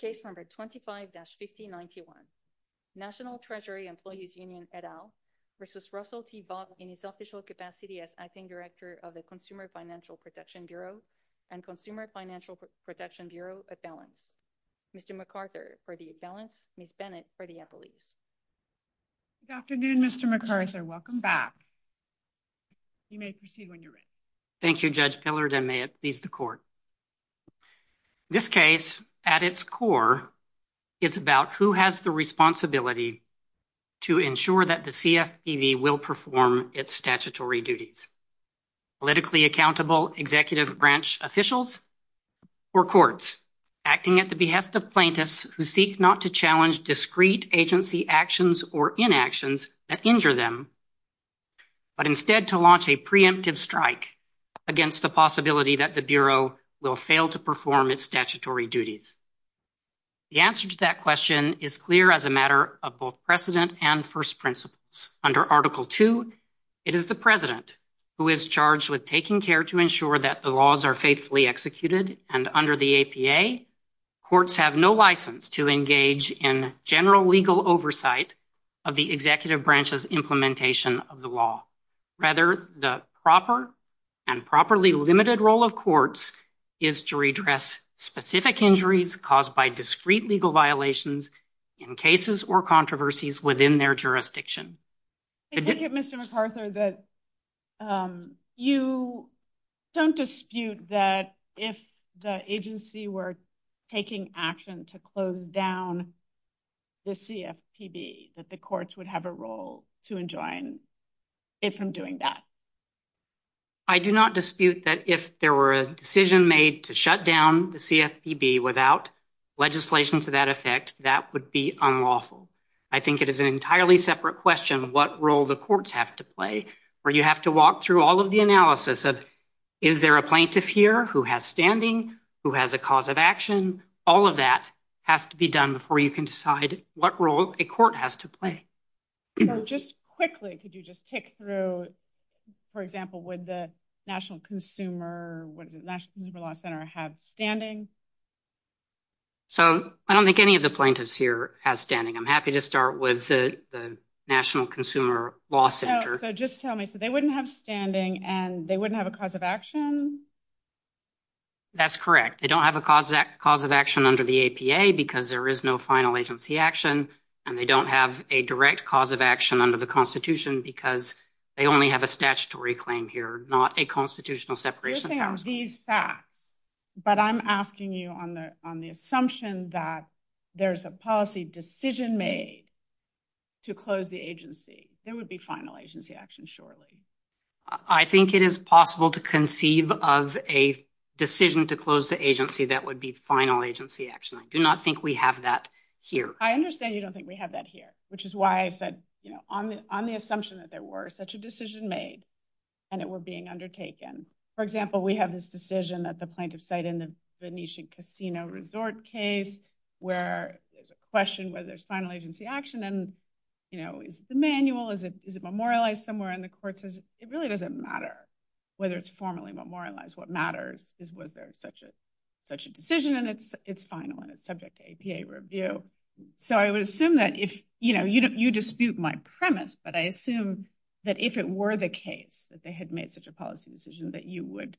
Case number 25-5091. National Treasury Employees Union et al versus Russell Vought in his official capacity as acting director of the Consumer Financial Protection Bureau and Consumer Financial Protection Bureau appellant. Mr. MacArthur for the appellant, Ms. Bennett for the appellate. Good afternoon, Mr. MacArthur. Welcome back. You may proceed when you're ready. Thank you, Judge Pillard, and may it please the court. In this case, at its core, it's about who has the responsibility to ensure that the CFPB will perform its statutory duties. Politically accountable executive branch officials or courts acting at the behest of plaintiffs who seek not to challenge discrete agency actions or inactions that injure them, but instead to launch a preemptive strike against the possibility that the Bureau will fail to perform its statutory duties. The answer to that question is clear as a matter of both precedent and first principles. Under Article II, it is the president who is charged with taking care to ensure that the laws are faithfully executed, and under the APA, courts have no license to engage in general legal oversight of the executive branch's implementation of the law. Rather, the proper and properly limited role of courts is to redress specific injuries caused by discrete legal violations in cases or controversies within their jurisdiction. Mr. MacArthur, you don't dispute that if the agency were taking action to close down the CFPB that the courts would have a role to enjoin it from doing that? I do not dispute that if there were a decision made to shut down the CFPB without legislation to that effect, that would be unlawful. I think it is an entirely separate question what role the courts have to play, where you have to walk through all of the analysis of, is there a plaintiff here who has standing, who has a cause of action, all of that has to be done before you can decide what role a court has to play. Just quickly, could you just tick through, for example, would the National Consumer Law Center have standing? So, I don't think any of the plaintiffs here have standing. I'm happy to start with the National Consumer Law Center. No, but just tell me, so they wouldn't have standing and they wouldn't have a cause of action? That's correct. They don't have a cause of action under the APA because there is no final agency action, and they don't have a direct cause of action under the Constitution because they only have a statutory claim here, not a constitutional separation. But I'm asking you on the assumption that there's a policy decision made to close the agency, there would be final agency action, surely? I think it is possible to conceive of a decision to close the agency that would be final agency action. I do not think we have that here. I understand you don't think we have that here, which is why I said, you know, on the assumption that there were such a decision made and it were being undertaken. For example, we have this decision that the plaintiff said in the Venetian Casino Resort case where there's a question whether there's final agency action, and, you know, is this a manual? Is it memorialized somewhere? And the court says it really doesn't matter whether it's formally memorialized. What matters is whether it's such a decision and it's final and it's subject to APA review. So I would assume that if, you know, you dispute my premise, but I assume that if it were the case that they had made such a policy decision that you would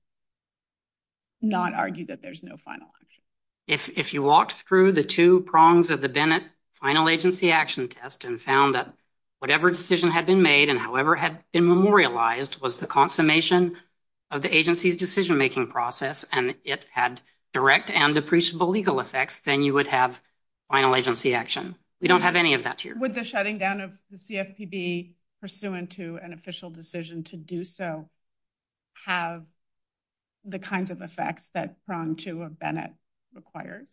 not argue that there's no final. If you walk through the two prongs of the Venet final agency action test and found that whatever decision had been made and however had been memorialized was the consummation of the agency's decision-making process and it had direct and appreciable legal effects, then you would have final agency action. We don't have any of that here. Would the shutting down of the CFPB pursuant to an official decision to do so have have the kinds of effects that Prong 2 of Venet requires?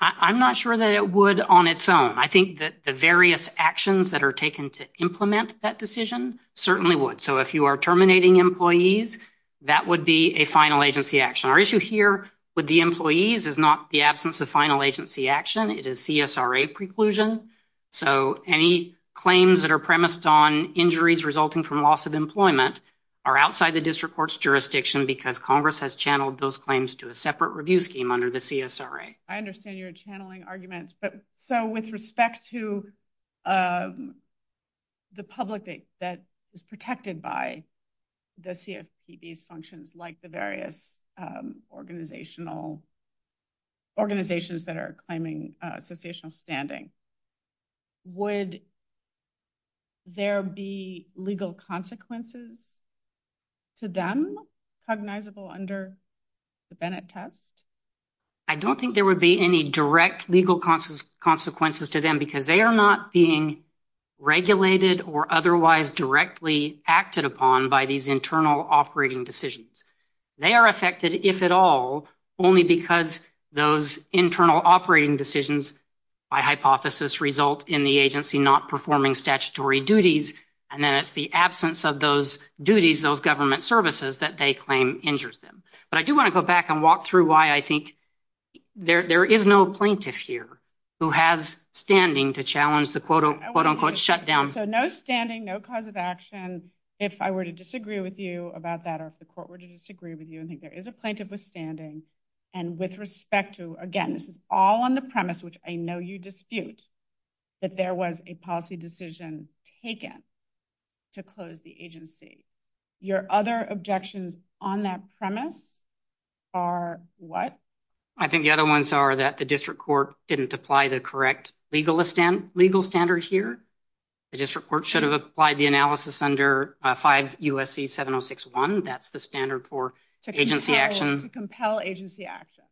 I'm not sure that it would on its own. I think that the various actions that are taken to implement that decision certainly would. So if you are terminating employees, that would be a final agency action. Our issue here with the employees is not the absence of final agency action. It is CSRA preclusion. So any claims that are premised on injuries resulting from loss of employment are outside the district court's jurisdiction because Congress has channeled those claims to a separate review scheme under the CSRA. I understand you're channeling arguments, but so with respect to the public that is protected by the CFPB's functions like the various organizational, organizations that are claiming official standing, would there be legal consequences to them cognizable under the Venet test? I don't think there would be any direct legal consequences to them because they are not being regulated or otherwise directly acted upon by these internal operating decisions. They are affected, if at all, only because those internal operating decisions, by hypothesis, result in the agency not performing statutory duties. And then it's the absence of those duties, those government services that they claim injures them. But I do want to go back and walk through why I think there is no plaintiff here who has standing to challenge the quote unquote shutdown. So no standing, no cause of action. If I were to disagree with you about that, or if the court were to disagree with you, I think there is a plaintiff with standing. And with respect to, again, this is all on the premise, which I know you dispute, that there was a policy decision taken to close the agency. Your other objections on that premise are what? I think the other ones are that the district court didn't apply the correct legal standard here. The district court should have applied the analysis under 5 U.S.C. 706-1. That's the standard for agency action. To compel agency action.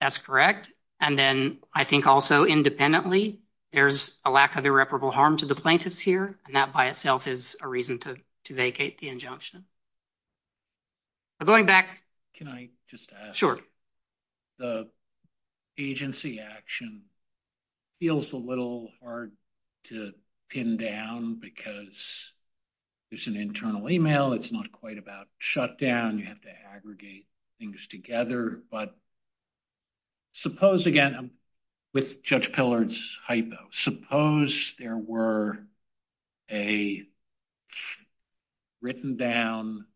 That's correct. And then I think also independently, there's a lack of irreparable harm to the plaintiffs here. And that by itself is a reason to vacate the injunction. Going back. Can I just ask? Sure. The agency action feels a little hard to pin down because it's an internal email. It's not quite about shutdown. You have to aggregate things together. But suppose, again, with Judge Pillard's hypo, suppose there were a written down,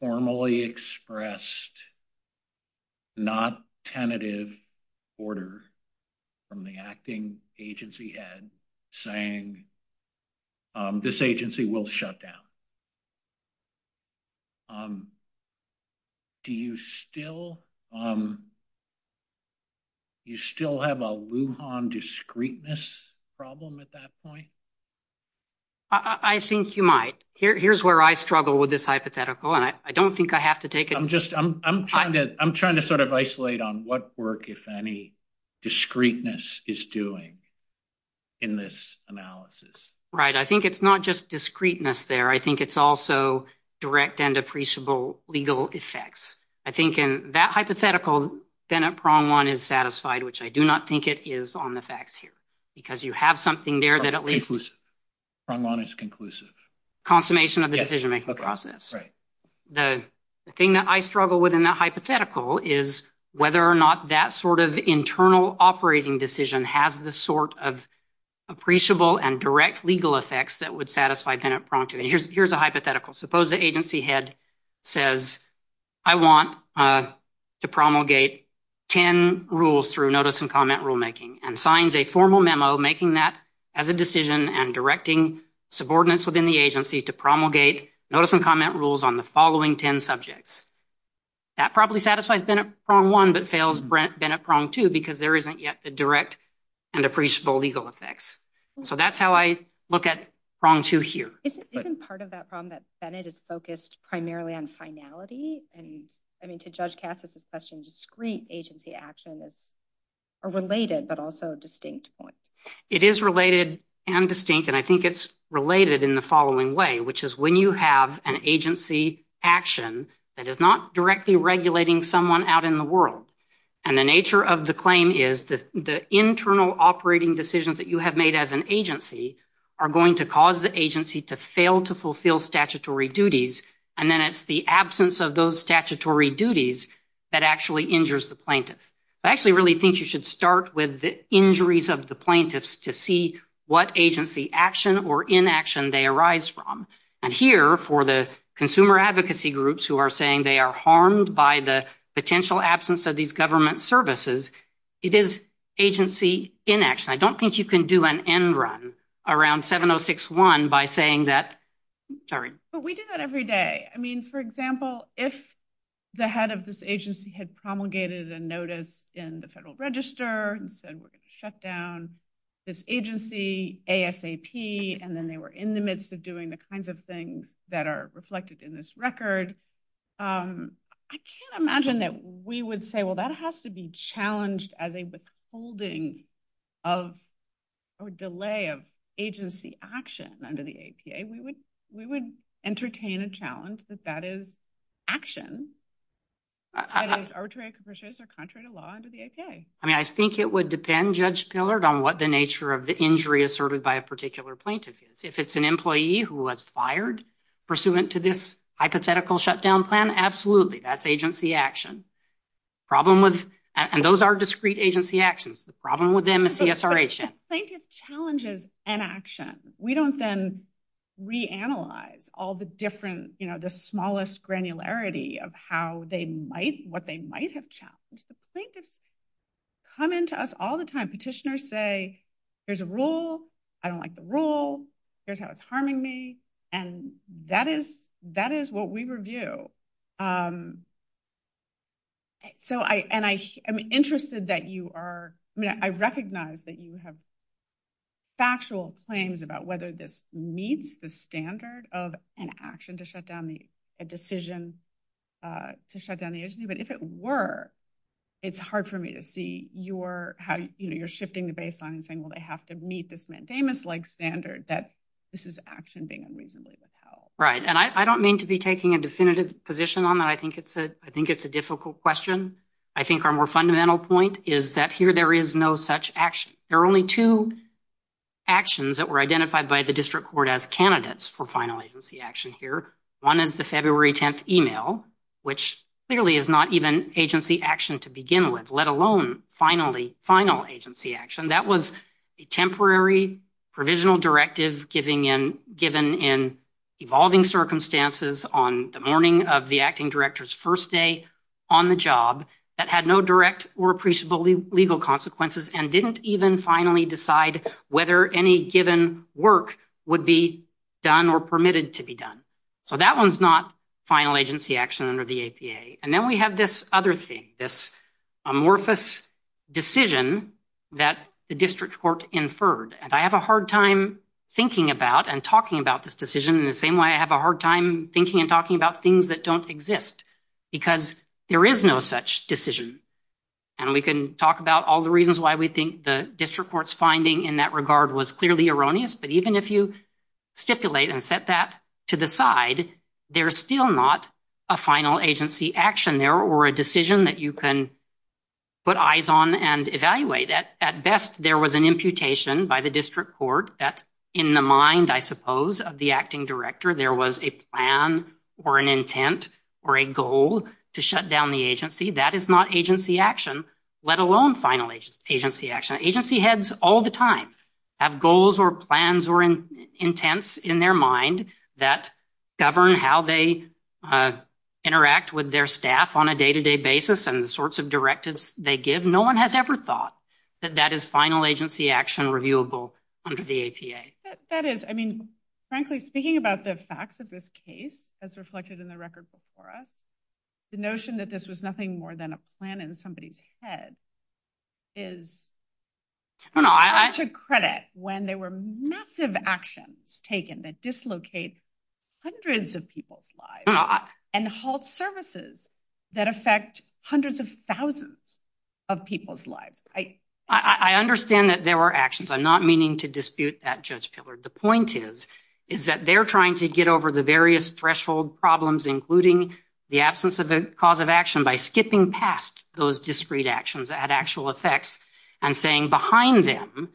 formally expressed, not tentative order from the acting agency head saying this agency will shut down. Do you still have a Lujan discreteness problem at that point? I think you might. Here's where I struggle with this hypothetical. I don't think I have to take it. I'm trying to sort of isolate on what work, if any, discreteness is doing in this analysis. Right. I think it's not just discreteness there. I think it's also direct and appreciable legal effects. I think in that hypothetical, then a prong one is satisfied, which I do not think it is on the facts here. Because you have something there that at least- Prong one is conclusive. Consummation of the decision-making process. The thing that I struggle with in that hypothetical is whether or not that sort of internal operating decision has the sort of appreciable and direct legal effects that would satisfy Bennett prong two. Here's a hypothetical. Suppose the agency head says, I want to promulgate 10 rules through notice and comment rule making, and signs a formal memo making that as a decision and directing subordinates within the agency to promulgate notice and comment rules on the following 10 subjects. That probably satisfies Bennett prong one but fails Bennett prong two because there isn't yet the direct and appreciable legal effects. So that's how I look at prong two here. Isn't part of that prong that Bennett is focused primarily on finality? I mean, to judge Cass's discussion, discreet agency action is a related but also distinct point. It is related and distinct, and I think it's related in the following way, which is when you have an agency action that is not directly regulating someone out in the world, and the internal operating decisions that you have made as an agency are going to cause the agency to fail to fulfill statutory duties, and then it's the absence of those statutory duties that actually injures the plaintiff. I actually really think you should start with the injuries of the plaintiffs to see what agency action or inaction they arise from. And here for the consumer advocacy groups who are saying they are harmed by the potential absence of these government services, it is agency inaction. I don't think you can do an end run around 706.1 by saying that, sorry. But we do that every day. I mean, for example, if the head of this agency had promulgated a notice in the Federal Register and said we're going to shut down this agency ASAP, and then they were in the midst of doing the kinds of things that are reflected in this record, I can't imagine that we would say, well, that has to be challenged as a withholding of or delay of agency action under the APA. We would entertain a challenge that that is action that is arbitrary or contrary to law under the APA. I mean, I think it would depend, Judge Pillard, on what the nature of the injury asserted by a particular plaintiff is. If it's an employee who was fired pursuant to this hypothetical shutdown plan, absolutely, that's agency action. And those are discrete agency actions. The problem with them is the assertion. Plaintiff challenges inaction. We don't then reanalyze all the smallest granularity of what they might have challenged. The plaintiffs come into us all the time. Petitioners say, there's a rule, I don't like the rule, here's how it's harming me, and that is what we review. And I'm interested that you are, I mean, I recognize that you have factual claims about whether this meets the standard of an action to shut down the, a decision to shut down the agency, but if it were, it's hard for me to see your, how, you know, you're shifting the baseline and saying, well, they have to meet this mandamus-like standard that this is actually being unreasonably held. Right. And I don't mean to be taking a definitive position on that. I think it's a, I think it's a difficult question. I think our more fundamental point is that here there is no such action. There are only two actions that were identified by the district court as candidates for final agency action here. One is the February 10th email, which clearly is not even agency action to begin with, let alone final agency action. That was a temporary provisional directive giving in, given in evolving circumstances on the morning of the acting director's first day on the job that had no direct or appreciable legal consequences and didn't even finally decide whether any given work would be done or permitted to be done. So that one's not final agency action under the APA. And then we have this other thing, this amorphous decision that the district court inferred. And I have a hard time thinking about and talking about this decision in the same way I have a hard time thinking and talking about things that don't exist because there is no such decision. And we can talk about all the reasons why we think the district court's finding in that regard was clearly erroneous, but even if you stipulate and set that to the side, there's still not a final agency action there or a decision that you can put eyes on and evaluate. At best, there was an imputation by the district court that in the mind, I suppose, of the acting director, there was a plan or an intent or a goal to shut down the agency. That is not agency action, let alone final agency action. Agency heads all the time have goals or plans or intents in their mind that govern how they interact with their staff on a day-to-day basis and the sorts of directives they give. No one has ever thought that that is final agency action reviewable under the APA. That is, I mean, frankly, speaking about the facts of this case, as reflected in the record before us, the notion that this was nothing more than a plan in somebody's head is to credit when there were massive actions taken that dislocate hundreds of people's lives and halt services that affect hundreds of thousands of people's lives. I understand that there were actions. I'm not meaning to dispute that, Judge Pillard. The point is that they're trying to get over the various threshold problems, including the absence of a cause of action, by skipping past those discrete actions that had actual effects and saying behind them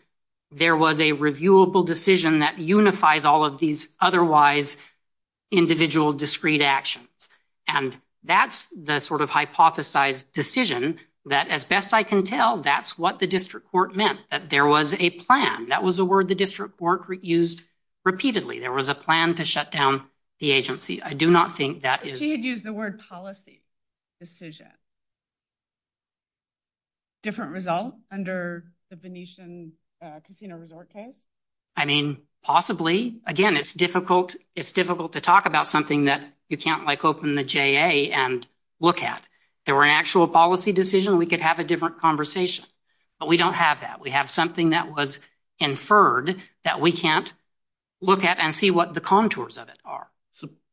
there was a reviewable decision that unifies all of these otherwise individual discrete actions. And that's the sort of hypothesized decision that, as best I can tell, that's what the district court meant, that there was a plan. That was the word the district court used repeatedly. There was a plan to shut down the agency. I do not think that is... She had used the word policy decision. Different result under the Venetian Casino Resort case? I mean, possibly. Again, it's difficult to talk about something that you can't, like, open the JA and look at. If there were an actual policy decision, we could have a different conversation. But we don't have that. We have something that was inferred that we can't look at and see what the contours of it are.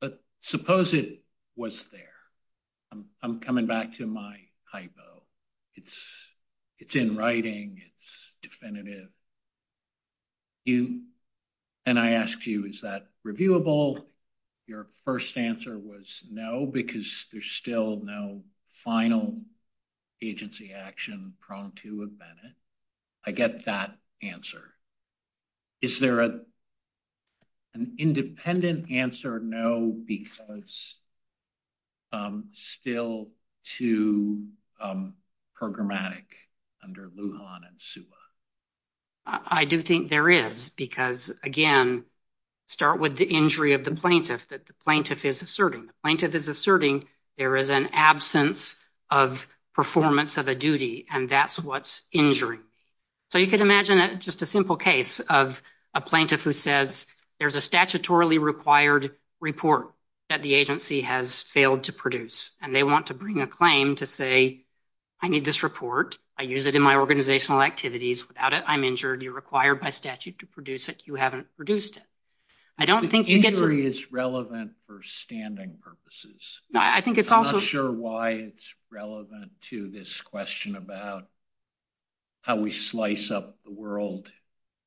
But suppose it was there. I'm coming back to my hypo. It's in writing. It's definitive. And I asked you, is that reviewable? Your first answer was no, because there's still no final agency action prone to a Venet. I get that answer. Is there an independent answer? No, because still too programmatic under Lujan and SUBA. I do think there is, because, again, start with the injury of the plaintiff, that the plaintiff is asserting. The plaintiff is asserting there is an absence of performance of a duty, and that's injury. So you can imagine just a simple case of a plaintiff who says, there's a statutorily required report that the agency has failed to produce. And they want to bring a claim to say, I need this report. I use it in my organizational activities. Without it, I'm injured. You're required by statute to produce it. You haven't produced it. I don't think you get to... Injury is relevant for standing purposes. I'm not sure why it's relevant to this question about how we slice up the world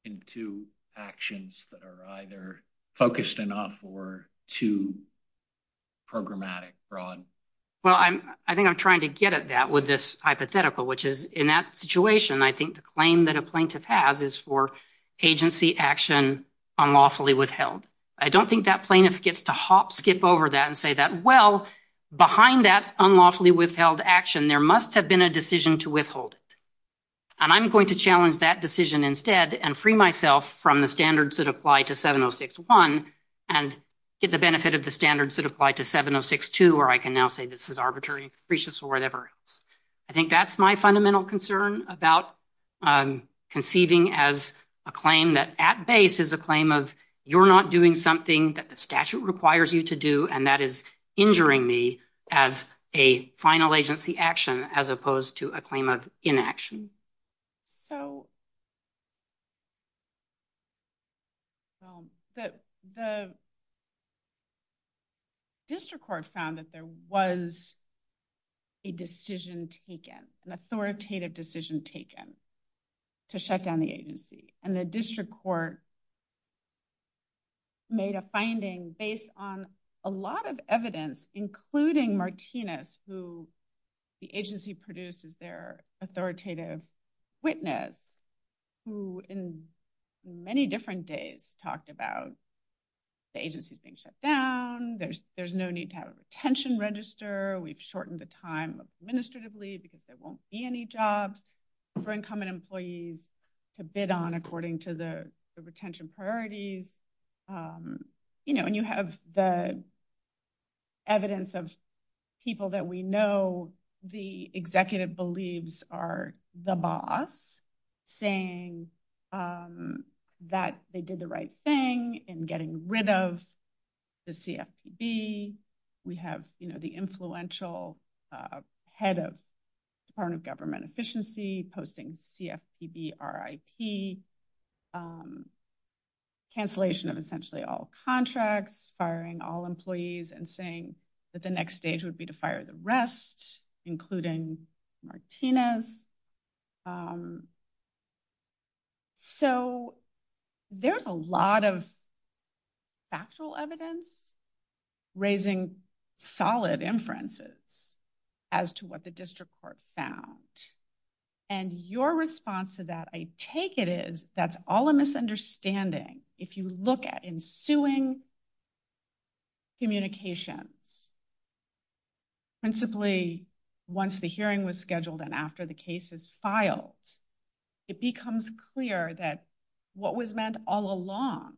into actions that are either focused enough or too programmatic. Well, I think I'm trying to get at that with this hypothetical, which is in that situation, I think the claim that a plaintiff has is for agency action unlawfully withheld. I don't think that plaintiff gets to hop, skip over that and say that, well, behind that unlawfully withheld action, there must have been a decision to withhold it. And I'm going to challenge that decision instead and free myself from the standards that apply to 706.1 and get the benefit of the standards that apply to 706.2, or I can now say this is arbitrary and capricious or whatever. I think that's my fundamental concern about conceiving as a claim that at base is a claim of, you're not doing something that the statute requires you to do, and that is injuring me as a final agency action as opposed to a claim of inaction. So the district court found that there was a decision taken, an authoritative decision taken to shut down the agency. And the district court made a finding based on a lot of evidence, including Martinez, who the agency produces their authoritative witness, who in many different days talked about the agency being shut down. There's no need to have a retention register. We've shortened the time administratively because there won't be any jobs for incoming employees to bid on to the agency. And you have the evidence of people that we know the executive believes are the boss, saying that they did the right thing in getting rid of the CFPB. We have the influential head of Department of Government Efficiency posting CFPB RIP, cancellation of essentially all contracts, firing all employees, and saying that the next stage would be to fire the rest, including Martinez. So there's a lot of factual evidence raising solid inferences as to what the district court found. And your response to that, I take it is that's all a misunderstanding. If you look at ensuing communication, principally once the hearing was scheduled and after the case is filed, it becomes clear that what was meant all along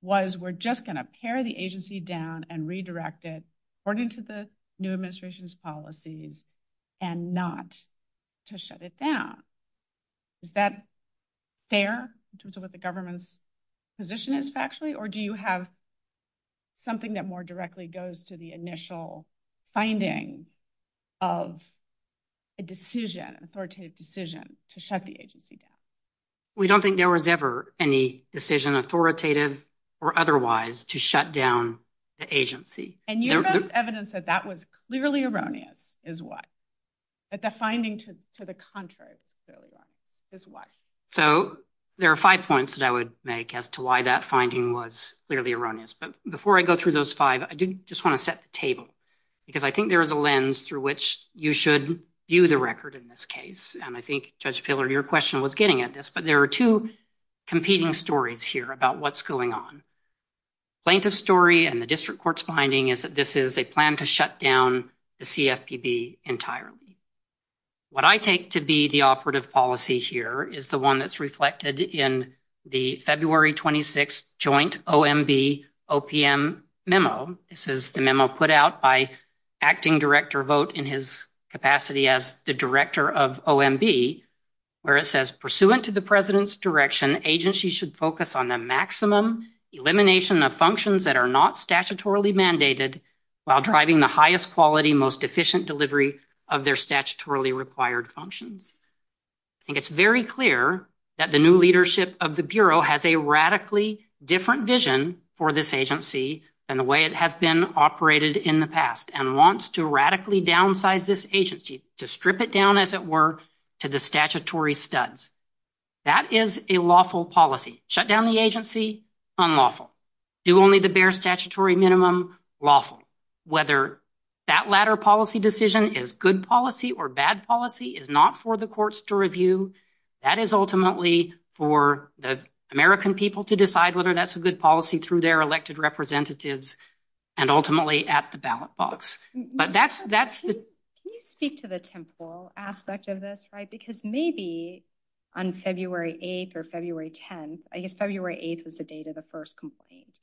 was we're just going to tear the agency down and redirect it according to the new administration's policies and not to shut it down. Is that fair in terms of what the government's position is factually, or do you have something that more directly goes to the initial finding of a decision, authoritative decision? Shut the agency down. We don't think there was ever any decision authoritative or otherwise to shut down the agency. And you have evidence that that was clearly erroneous is why. But the finding to the contrary is why. So there are five points that I would make as to why that finding was clearly erroneous. But before I go through those five, I do just want to set the table, because I think there is a lens through which you should view the record in this case. And I think Judge Filler, your question was getting at this, but there are two competing stories here about what's going on. Length of story and the district court's finding is that this is a plan to shut down the CFPB entirely. What I take to be the operative policy here is the one that's reflected in the February 26th joint OMB OPM memo. This is the memo put out by acting director Vogt in his capacity as the director of OMB, where it says, pursuant to the president's direction, agency should focus on the maximum elimination of functions that are not statutorily mandated while driving the highest quality, most efficient delivery of their statutorily required functions. I think it's very clear that the new leadership of the Bureau has a radically different vision for this agency than the way it has been operated in the past and wants to downsize this agency, to strip it down as it were to the statutory studs. That is a lawful policy. Shut down the agency, unlawful. Do only the bare statutory minimum, lawful. Whether that latter policy decision is good policy or bad policy is not for the courts to review. That is ultimately for the American people to decide whether that's a good policy through their elected representatives and ultimately at the ballot box. Can you speak to the temporal aspect of this? Because maybe on February 8th or February 10th, I guess February 8th was the date of the first complaint,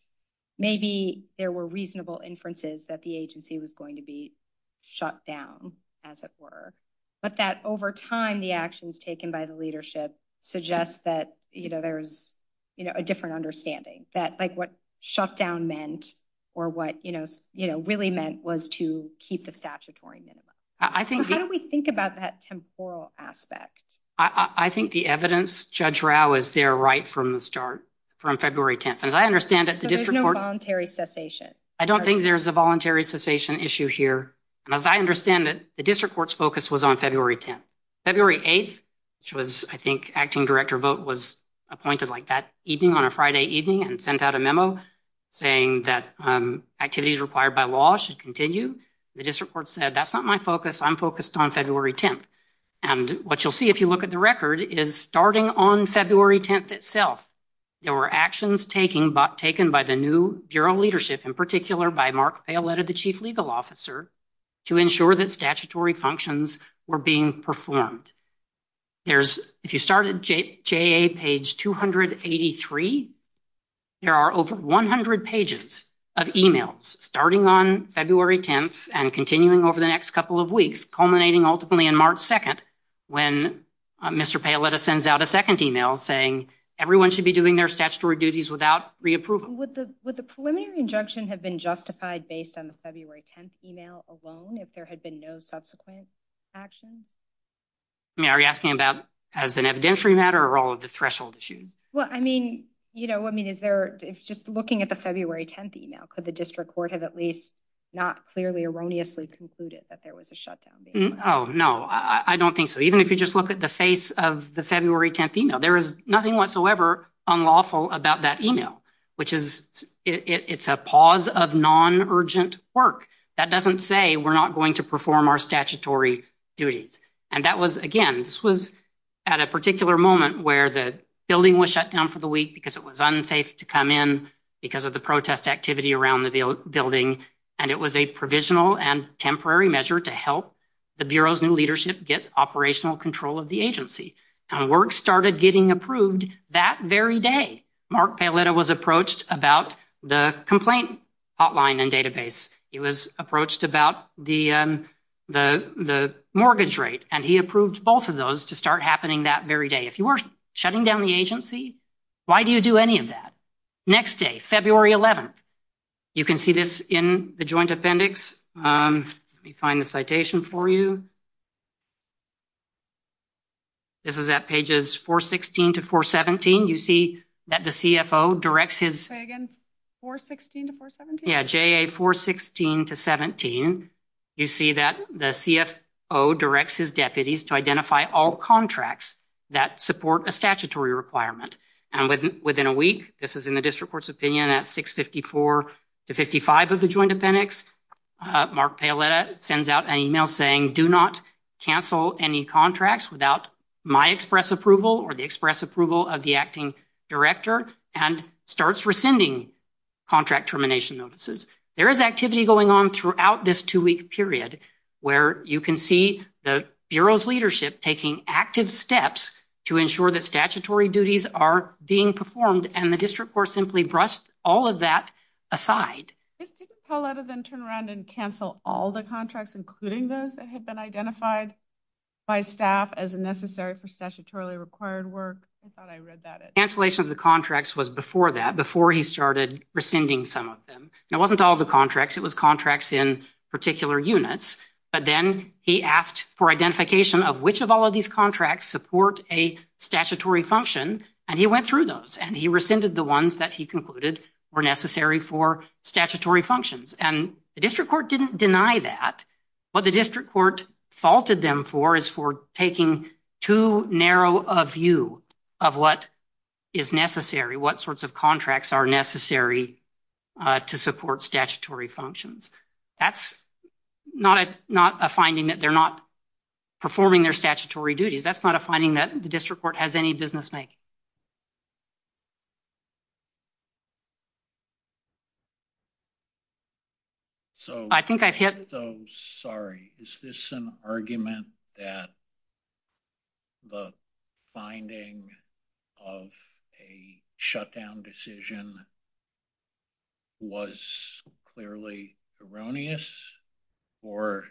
maybe there were reasonable inferences that the agency was going to be shut down as it were, but that over time the actions taken by the leadership suggest that there's a different understanding that like what shut down meant or what really meant was to keep the statutory minimum. How do we think about that temporal aspect? I think the evidence, Judge Rao, is there right from the start, from February 10th. There's no voluntary cessation. I don't think there's a voluntary cessation issue here. As I understand it, the district court's focus was on February 10th. February 8th, which was I think acting director vote was appointed like that evening, on a Friday evening and sent out a memo saying that activities required by law should continue. The district court said, that's not my focus. I'm focused on February 10th. And what you'll see if you look at the record is starting on February 10th itself, there were actions taken by the new bureau leadership, in particular by Mark Palette, the chief legal officer, to ensure that statutory functions were being performed. There's, if you start at JA page 283, there are over 100 pages of emails starting on February 10th and continuing over the next couple of weeks, culminating ultimately in March 2nd, when Mr. Palette sends out a second email saying everyone should be doing their statutory duties without reapproval. Would the preliminary injunction have been justified based on the Are you asking about as an evidentiary matter or all of the threshold issues? Well, I mean, you know, I mean, is there, it's just looking at the February 10th email, could the district court have at least not clearly erroneously concluded that there was a shutdown? Oh, no, I don't think so. Even if you just look at the face of the February 10th email, there is nothing whatsoever unlawful about that email, which is, it's a pause of non-urgent work. That doesn't say we're not going to perform our statutory duties. And that was, again, this was at a particular moment where the building was shut down for the week because it was unsafe to come in because of the protest activity around the building. And it was a provisional and temporary measure to help the Bureau's new leadership get operational control of the agency. And work started getting approved that very day. Mark Palette was approached about the complaint hotline and database. He was approached about the mortgage rate and he approved both of those to start happening that very day. If you were shutting down the agency, why do you do any of that? Next day, February 11th. You can see this in the joint appendix. Let me find the citation for you. This is at pages 416 to 417. You see that the CFO directs his- Say again. 416 to 417? Yeah, JA 416 to 417. You see that the CFO directs his deputies to identify all contracts that support a statutory requirement. And within a week, this is in the district court's opinion at 654 to 55 of the joint appendix, Mark Palette sends out an email saying, do not cancel any contracts without my express approval or the express approval of the acting director and starts rescinding contract termination notices. There is activity going on throughout this two-week period where you can see the Bureau's leadership taking active steps to ensure that statutory duties are being performed and the district court simply brushed all of that aside. Did Mr. Palette then turn around and cancel all the contracts, including those that had been identified by staff as necessary for statutorily required work? Cancellation of the contracts was before that, before he started rescinding some of them. It wasn't all the contracts. It was contracts in particular units. But then he asked for identification of which of all of these contracts support a statutory function. And he went through those and he rescinded the ones that he concluded were necessary for statutory functions. And the district court didn't deny that. What the district court faulted them for is for taking too narrow a of what is necessary, what sorts of contracts are necessary to support statutory functions. That's not a finding that they're not performing their statutory duties. That's not a finding that the district court has any business making. So I think I've hit. Sorry, is this an argument that the finding of a shutdown decision was clearly erroneous, or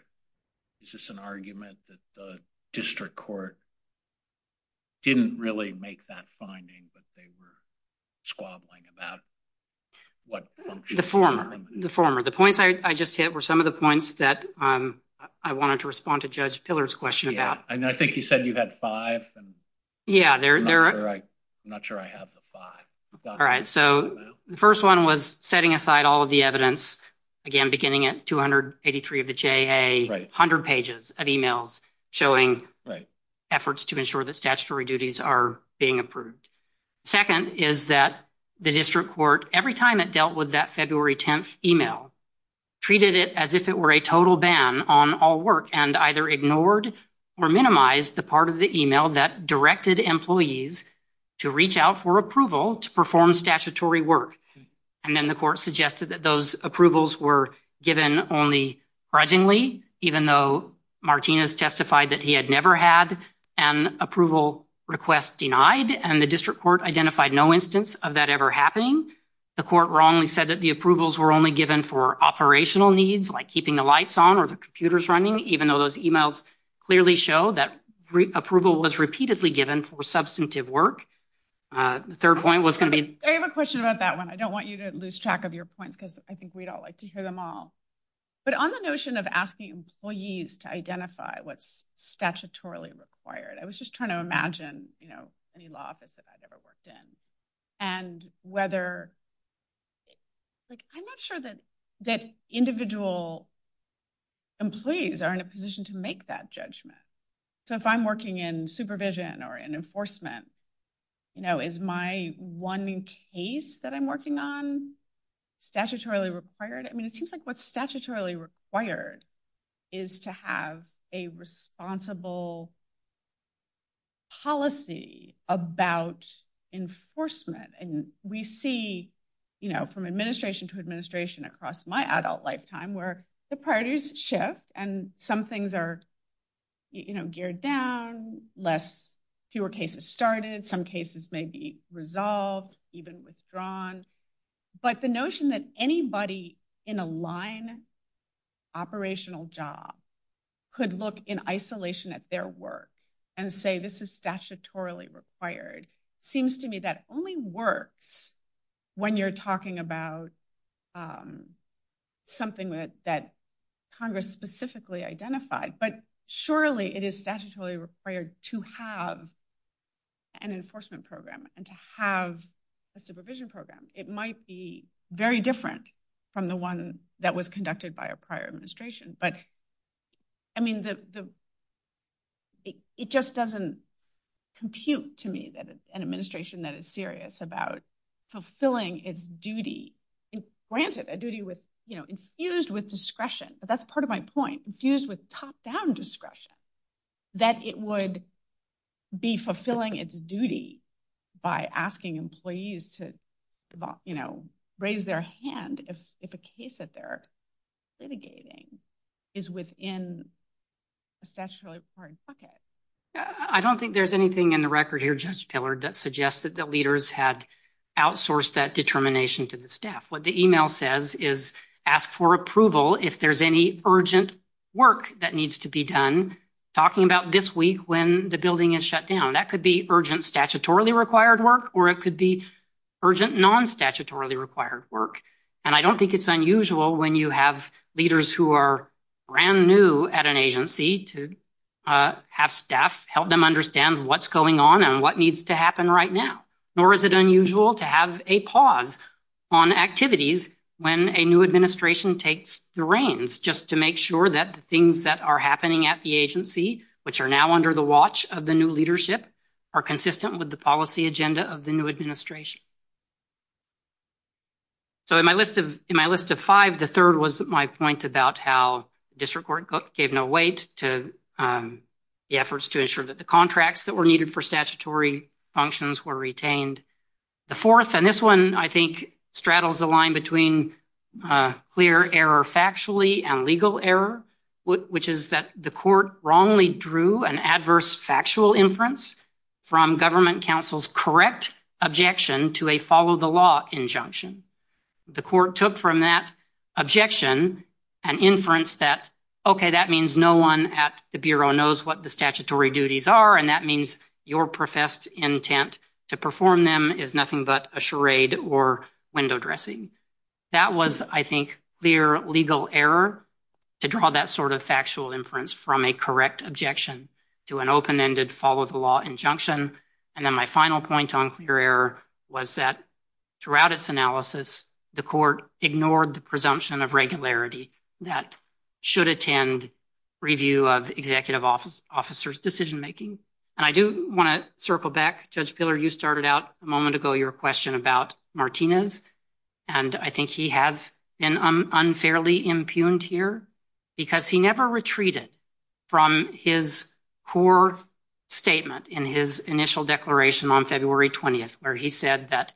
is this an argument that the district court didn't really make that finding, but they were squabbling about what functions- The former. The former. The points I just hit were some of the points that I wanted to respond to and I think you said you had five. Yeah. I'm not sure I have the five. All right. So the first one was setting aside all of the evidence, again, beginning at 283 of the JA, 100 pages of emails showing efforts to ensure that statutory duties are being approved. Second is that the district court, every time it dealt with that February 10th email, treated it as if it were a total ban on all work and either ignored or minimized the part of the email that directed employees to reach out for approval to perform statutory work. And then the court suggested that those approvals were given only fudgingly, even though Martinez testified that he had never had an approval request denied and the district court identified no instance of that ever happening. The court wrongly said that the approvals were only given for operational needs like keeping the lights on or the computers running, even though those emails clearly show that approval was repeatedly given for substantive work. The third point was going to be- I have a question about that one. I don't want you to lose track of your points because I think we'd all like to hear them all. But on the notion of asking employees to identify what's statutorily required, I was just trying to imagine any law office that I've ever worked in and whether- I'm not sure that individual employees are in a position to make that judgment. So if I'm working in supervision or in enforcement, is my one case that I'm working on statutorily required? I mean, it seems like what's statutorily required is to have a responsible policy about enforcement. And we see from administration to administration across my adult lifetime where the priorities shift and some things are geared down, fewer cases started, some cases may be resolved, even withdrawn. But the notion that anybody in a line operational job could look in isolation at their work and say this is statutorily required seems to me that only works when you're talking about something that Congress specifically identified. But surely it is statutorily required to have an enforcement program and to have a supervision program. It might be very different from the one that was conducted by a prior administration. But I mean, it just doesn't compute to me that it's an administration that is serious about fulfilling its duty. Granted, a duty infused with discretion, but that's part of my point, infused with top-down discretion, that it would be fulfilling its duty by asking employees to raise their hand if a case that they're litigating is within a statutorily required bucket. I don't think there's anything in the record here, Judge Pillard, that suggests that the leaders had outsourced that determination to the staff. What the email says is ask for approval if there's any urgent work that needs to be done, talking about this week when the building is shut down. That could be urgent statutorily required work, or it could be urgent non-statutorily required work. And I don't think it's unusual when you have leaders who are brand new at an agency to have staff help them understand what's going on and what needs to happen right now. Nor is it unusual to have a pause on activities when a new administration takes the reins, just to make sure that the happening at the agency, which are now under the watch of the new leadership, are consistent with the policy agenda of the new administration. So, in my list of five, the third was my point about how district court gave no weight to the efforts to ensure that the contracts that were needed for statutory functions were retained. The fourth, and this one, I think, straddles the line between clear error factually and legal error, which is that the court wrongly drew an adverse factual inference from government counsel's correct objection to a follow-the-law injunction. The court took from that objection an inference that, okay, that means no one at the Bureau knows what the statutory duties are, and that means your professed intent to perform them is nothing but a charade or window dressing. That was, I think, clear legal error to draw that sort of factual inference from a correct objection to an open-ended follow-the-law injunction. And then my final point on clear error was that throughout its analysis, the court ignored the presumption of regularity that should attend review of the executive officer's decision making. And I do want to circle back. Judge I think he has been unfairly impugned here because he never retreated from his core statement in his initial declaration on February 20th where he said that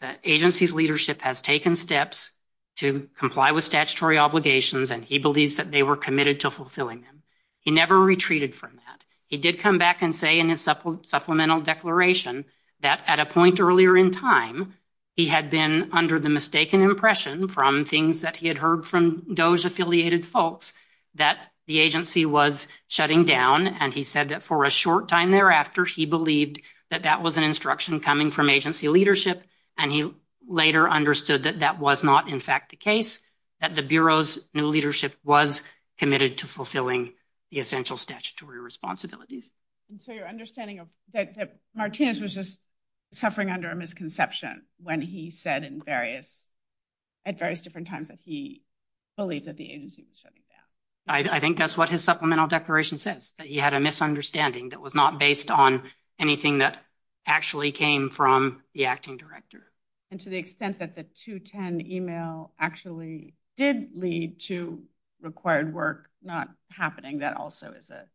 the agency's leadership has taken steps to comply with statutory obligations, and he believes that they were committed to fulfilling them. He never retreated from that. He did come back and say in his supplemental declaration that at a point earlier in time, he had been under the mistaken impression from things that he had heard from those affiliated folks that the agency was shutting down, and he said that for a short time thereafter, he believed that that was an instruction coming from agency leadership, and he later understood that that was not, in fact, the case, that the Bureau's new leadership was committed to fulfilling the essential statutory responsibilities. And so your understanding of Martinez was just suffering under a misconception when he said at various different times that he believed that the agency was shutting down. I think that's what his supplemental declaration says, that he had a misunderstanding that was not based on anything that actually came from the acting director. And to the extent that the 210 email actually did lead to required work not happening, that also is a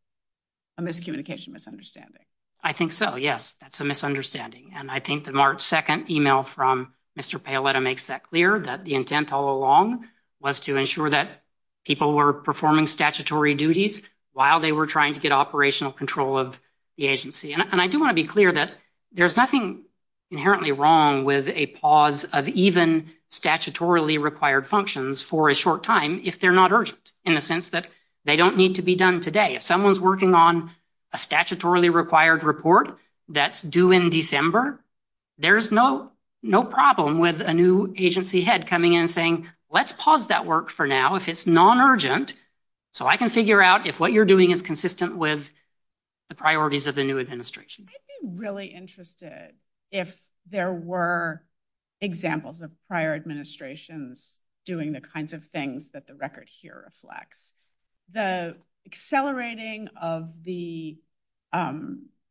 miscommunication misunderstanding. I think so, yes. That's a misunderstanding. And I think the March 2nd email from Mr. Paoletta makes that clear, that the intent all along was to ensure that people were performing statutory duties while they were trying to get operational control of the agency. And I do want to be clear that there's nothing inherently wrong with a pause of even statutorily required functions for a short time if they're not urgent, in the sense that they don't need to be done today. If someone's working on a statutorily required report that's due in December, there's no problem with a new agency head coming in saying, let's pause that work for now if it's non-urgent so I can figure out if what you're doing is consistent with the priorities of the new administration. I'd be really interested if there were examples of prior administrations doing the kinds of things that the record here reflects. The accelerating of the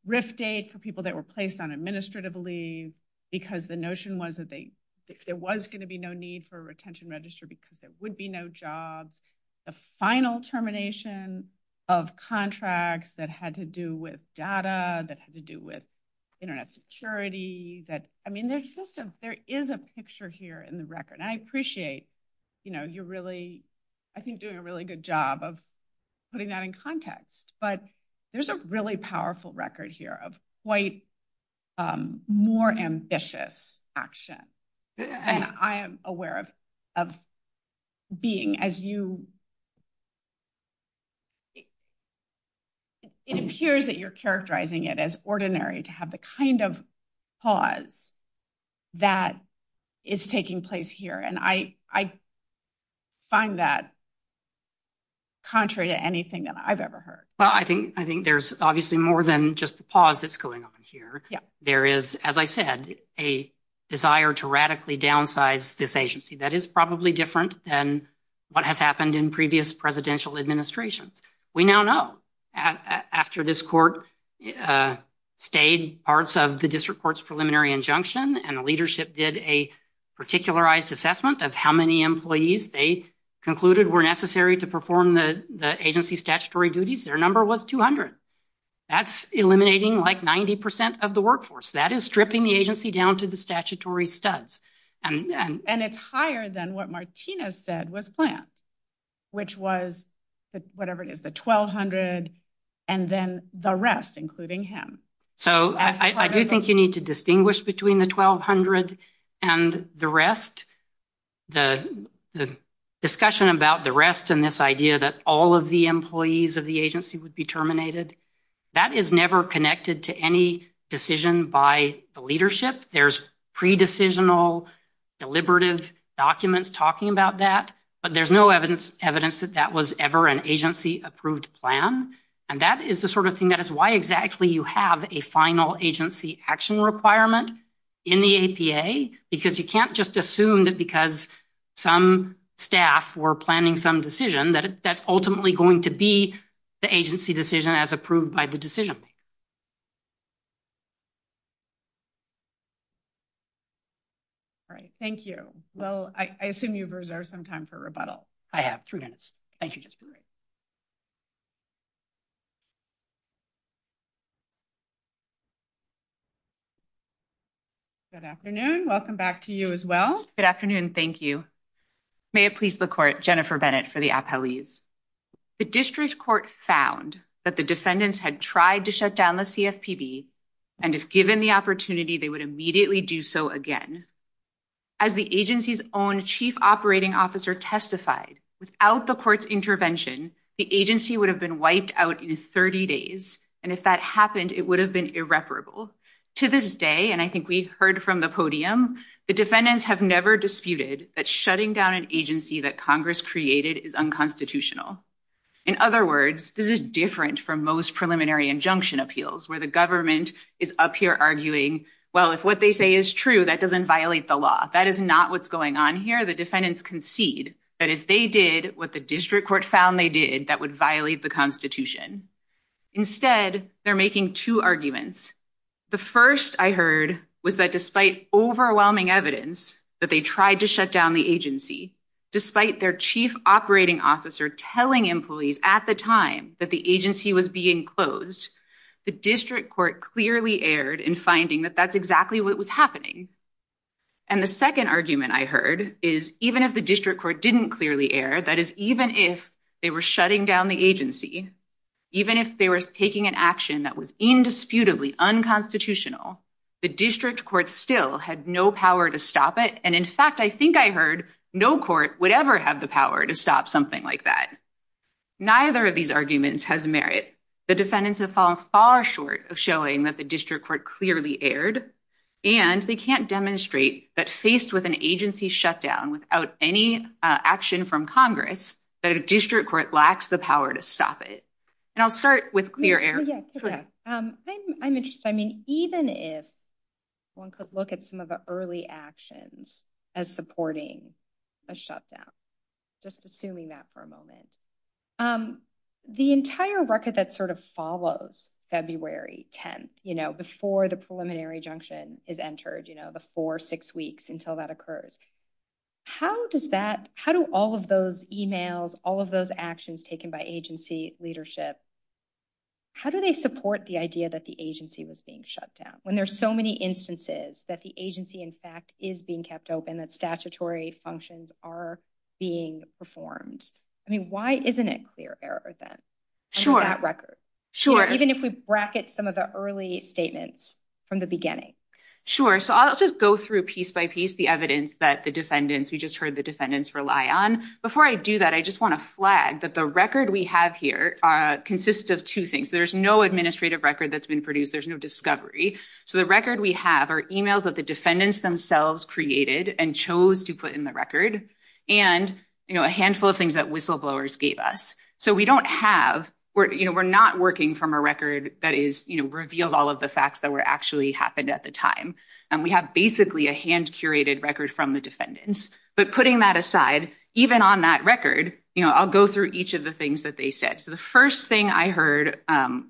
RIF date for people that were placed on administrative leave because the notion was that there was going to be no need for a retention register because there would be no jobs. The final termination of contracts that had to do with data, that had to do with Internet security. I mean, there is a picture here in the record. And I appreciate, you know, you're really, I think, doing a really good job of putting that in context. But there's a really powerful record here of quite more ambitious action. And I am aware of being as concerned about the fact that you, it appears that you're characterizing it as ordinary to have the kind of pause that is taking place here. And I find that contrary to anything that I've ever heard. Well, I think there's obviously more than just the pause that's going on here. There is, as I said, a desire to radically downsize this agency. That is probably different than what has happened in previous presidential administrations. We now know after this court stayed parts of the district court's preliminary injunction and the leadership did a particularized assessment of how many employees they concluded were necessary to perform the agency's statutory duties, their number was 1,200. That's eliminating like 90% of the workforce. That is stripping the agency down to the statutory studs. And it's higher than what Martina said was planned, which was whatever it is, the 1,200 and then the rest, including him. So I do think you need to distinguish between the 1,200 and the rest. The discussion about the rest and this idea that all of the employees of the agency would be terminated, that is never connected to any decision by the leadership. There's pre-decisional deliberative documents talking about that, but there's no evidence that that was ever an agency approved plan. And that is the sort of thing that is why exactly you have a final agency action requirement in the APA, because you can't just assume that because some staff were planning some decision that that's ultimately going to be the agency decision as approved by the decision. All right. Thank you. So I assume you've reserved some time for rebuttal. I have three minutes. Thank you. Good afternoon. Welcome back to you as well. Good afternoon. Thank you. May it please the court, Jennifer Bennett for the appellees. The district court found that the defendants had tried to shut down the CFPB and if given the opportunity, they would immediately do so again. As the agency's own chief operating officer testified, without the court's intervention, the agency would have been wiped out in 30 days. And if that happened, it would have been irreparable. To this day, and I think we've the podium, the defendants have never disputed that shutting down an agency that Congress created is unconstitutional. In other words, this is different from most preliminary injunction appeals where the government is up here arguing, well, if what they say is true, that doesn't violate the law. That is not what's going on here. The defendants concede that if they did what the district court found they did, that would violate the constitution. Instead, they're making two arguments. The first I heard was that despite overwhelming evidence that they tried to shut down the agency, despite their chief operating officer telling employees at the time that the agency was being closed, the district court clearly erred in finding that that's exactly what was happening. And the second argument I heard is even if the district court didn't clearly err, that is even if they were shutting down the agency, even if they were taking an action that was indisputably unconstitutional, the district court still had no power to stop it. And in fact, I think I heard no court would ever have the power to stop something like that. Neither of these arguments has merit. The defendants have fallen far short of showing that the district court clearly erred, and they can't demonstrate that faced with an agency shutdown without any action from congress, that a district court lacks the power to stop it. And I'll start with clear air. I'm interested, I mean, even if one could look at some of the early actions as supporting a shutdown, just assuming that for a moment, the entire record that sort of follows February 10th, you know, before the preliminary injunction is entered, you know, the four, six weeks until that occurs, how does that, how do all of those emails, all of those actions taken by agency leadership, how do they support the idea that the agency was being shut down when there's so many instances that the agency in fact is being kept open, that statutory functions are being performed? I mean, why isn't it clear error in that record? Even if we bracket some of the early statements from the beginning. Sure. So I'll just go through piece by piece the evidence that the defendants, we just heard the defendants rely on. Before I do that, I just want to flag that the record we have here consists of two things. There's no administrative record that's been produced. There's no discovery. So the record we have are emails that the defendants themselves created and chose to put the record and, you know, a handful of things that whistleblowers gave us. So we don't have, we're, you know, we're not working from a record that is, you know, revealed all of the facts that were actually happened at the time. And we have basically a hand curated record from the defendants. But putting that aside, even on that record, you know, I'll go through each of the things that they said. So the first thing I heard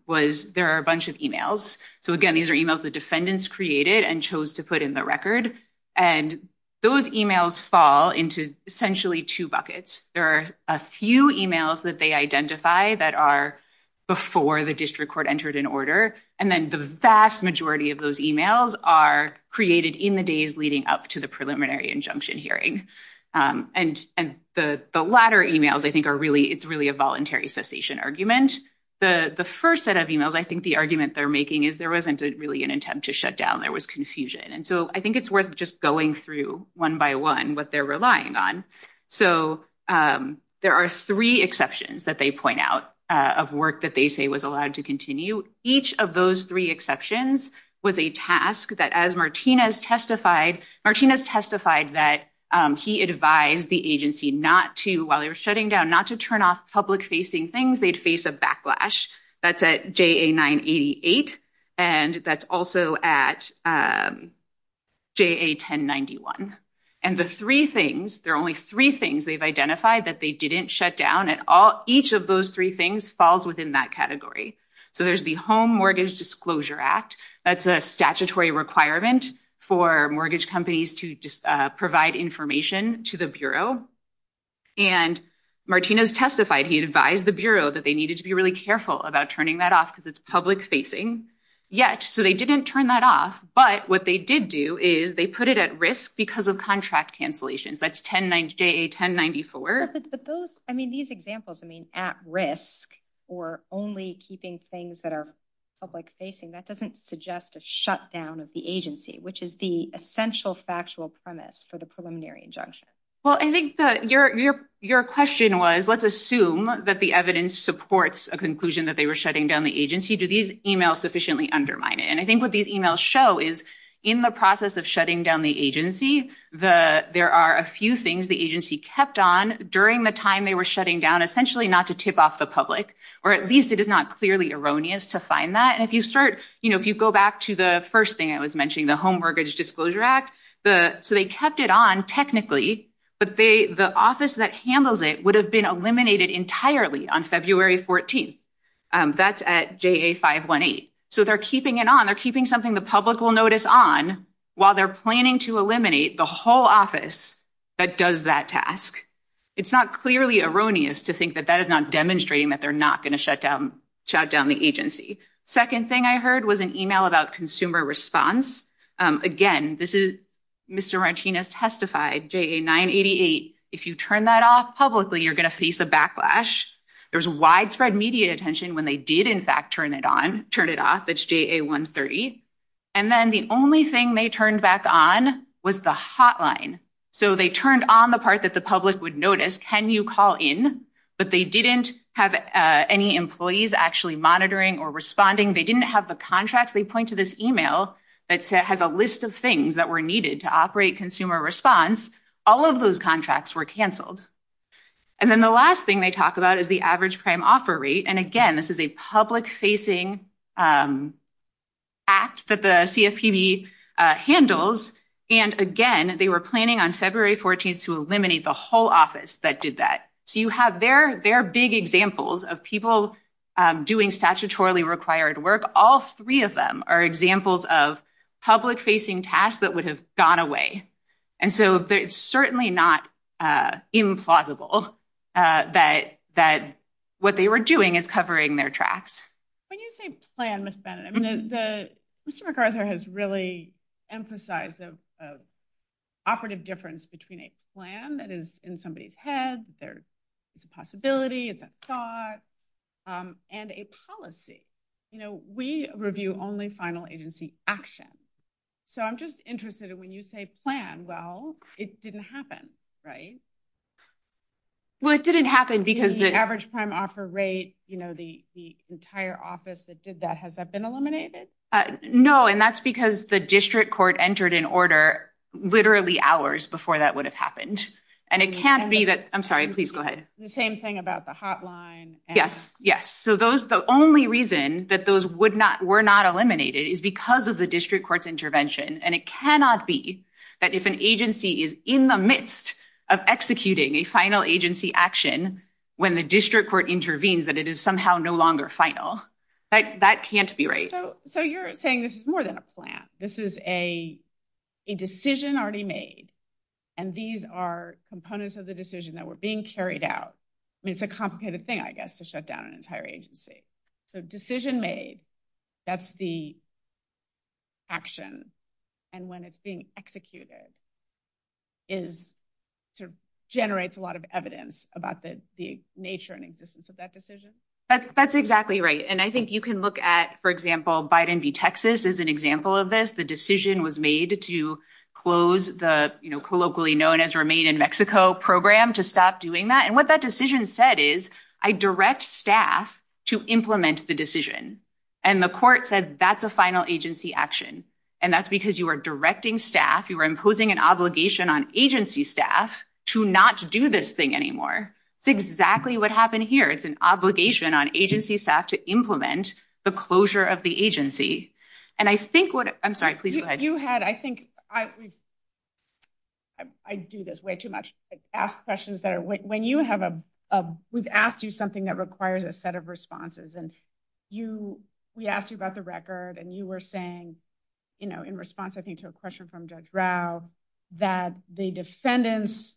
was there are a bunch of emails. So again, these are the emails the defendants created and chose to put in the record. And those emails fall into essentially two buckets. There are a few emails that they identify that are before the district court entered an order. And then the vast majority of those emails are created in the days leading up to the preliminary injunction hearing. And the latter emails I think are really, it's really a voluntary cessation argument. The first set of emails, I think the argument they're making is there wasn't really an attempt to shut down. There was confusion. And so I think it's worth just going through one by one what they're relying on. So there are three exceptions that they point out of work that they say was allowed to continue. Each of those three exceptions was a task that as Martinez testified, Martinez testified that he advised the agency not to, while they were shutting down, not to turn off public facing things, they'd face a backlash. That's at JA-988. And that's also at JA-1091. And the three things, there are only three things they've identified that they didn't shut down at all. Each of those three things falls within that category. So there's the Home Mortgage Disclosure Act. That's a statutory requirement for mortgage companies to provide information to the Bureau. And Martinez testified he advised the Bureau that they needed to be really careful about turning that off because it's public facing. Yet. So they didn't turn that off. But what they did do is they put it at risk because of contract cancellations. That's JA-1094. I mean, these examples, I mean, at risk or only keeping things that are public facing, that doesn't suggest a shutdown of the agency, which is the essential factual premise for the preliminary injunction. Well, I think that your question was, let's assume that the evidence supports a conclusion that they were shutting down the agency. Do these emails sufficiently undermine it? And I think what these emails show is in the process of shutting down the agency, there are a few things the agency kept on during the time they were shutting down, essentially not to tip off the or at least it is not clearly erroneous to find that. And if you start, you know, if you go back to the first thing I was mentioning, the Home Mortgage Disclosure Act, so they kept it on technically, but the office that handles it would have been eliminated entirely on February 14th. That's at JA-518. So they're keeping it on. They're keeping something the public will notice on while they're planning to eliminate the whole office that does that task. It's not clearly erroneous to think that that is not demonstrating that they're not going to shut down the agency. Second thing I heard was an email about consumer response. Again, this is Mr. Martinez testified, JA-988. If you turn that off publicly, you're going to face a backlash. There's widespread media attention when they did in fact turn it on, turn it off, it's JA-130. And then the only thing they turned back on was the hotline. So they turned on the part that the public would notice, can you call in, but they didn't have any employees actually monitoring or responding. They didn't have the contracts. They point to this email that has a list of things that were needed to operate consumer response. All of those contracts were canceled. And then the last thing they talk about is the average prime offer rate. And again, this is a public facing act that the CFPB handles. And again, they were planning on February 14th to eliminate the whole office that did that. So you have their big examples of people doing statutorily required work. All three of them are examples of public facing tasks that would have gone away. And so it's certainly not implausible that what they were doing is covering their tracks. When you say plan, Ms. Bennett, I mean, Mr. McArthur has really emphasized the operative difference between a plan that is in somebody's head, there's a possibility, it's a thought, and a policy. We review only final agency action. So I'm just interested in when you say plan, well, it didn't happen, right? Well, it didn't happen because the average office that did that, has that been eliminated? No, and that's because the district court entered in order literally hours before that would have happened. And it can't be that, I'm sorry, please go ahead. The same thing about the hotline. Yes, yes. So the only reason that those were not eliminated is because of the district court's intervention. And it cannot be that if an agency is in the midst of executing a final agency action, when the district court intervenes, that it is somehow no longer final. That can't be right. So you're saying this is more than a plan. This is a decision already made. And these are components of the decision that were being carried out. I mean, it's a complicated thing, I guess, to shut down an entire agency. So decision made, that's the action. And when it's being executed, it generates a lot of evidence about the nature and existence of that decision. That's exactly right. And I think you can look at, for example, Biden v. Texas is an example of this. The decision was made to close the, you know, colloquially known as Remain in Mexico program to stop doing that. And what that decision said is, I direct staff to implement the decision. And the court said, that's a final agency action. And that's because you were directing staff, you were imposing an obligation on agency staff to not do this thing anymore. It's exactly what happened here. It's an obligation on agency staff to implement the closure of the agency. And I think what, I'm sorry, please go ahead. You had, I think, I do this way too much, ask questions that are, when you have a, we've asked you something that requires a set of responses and you, we asked you about the record and you were saying, you know, in response, I think to a question from Judge Rao, that the defendants,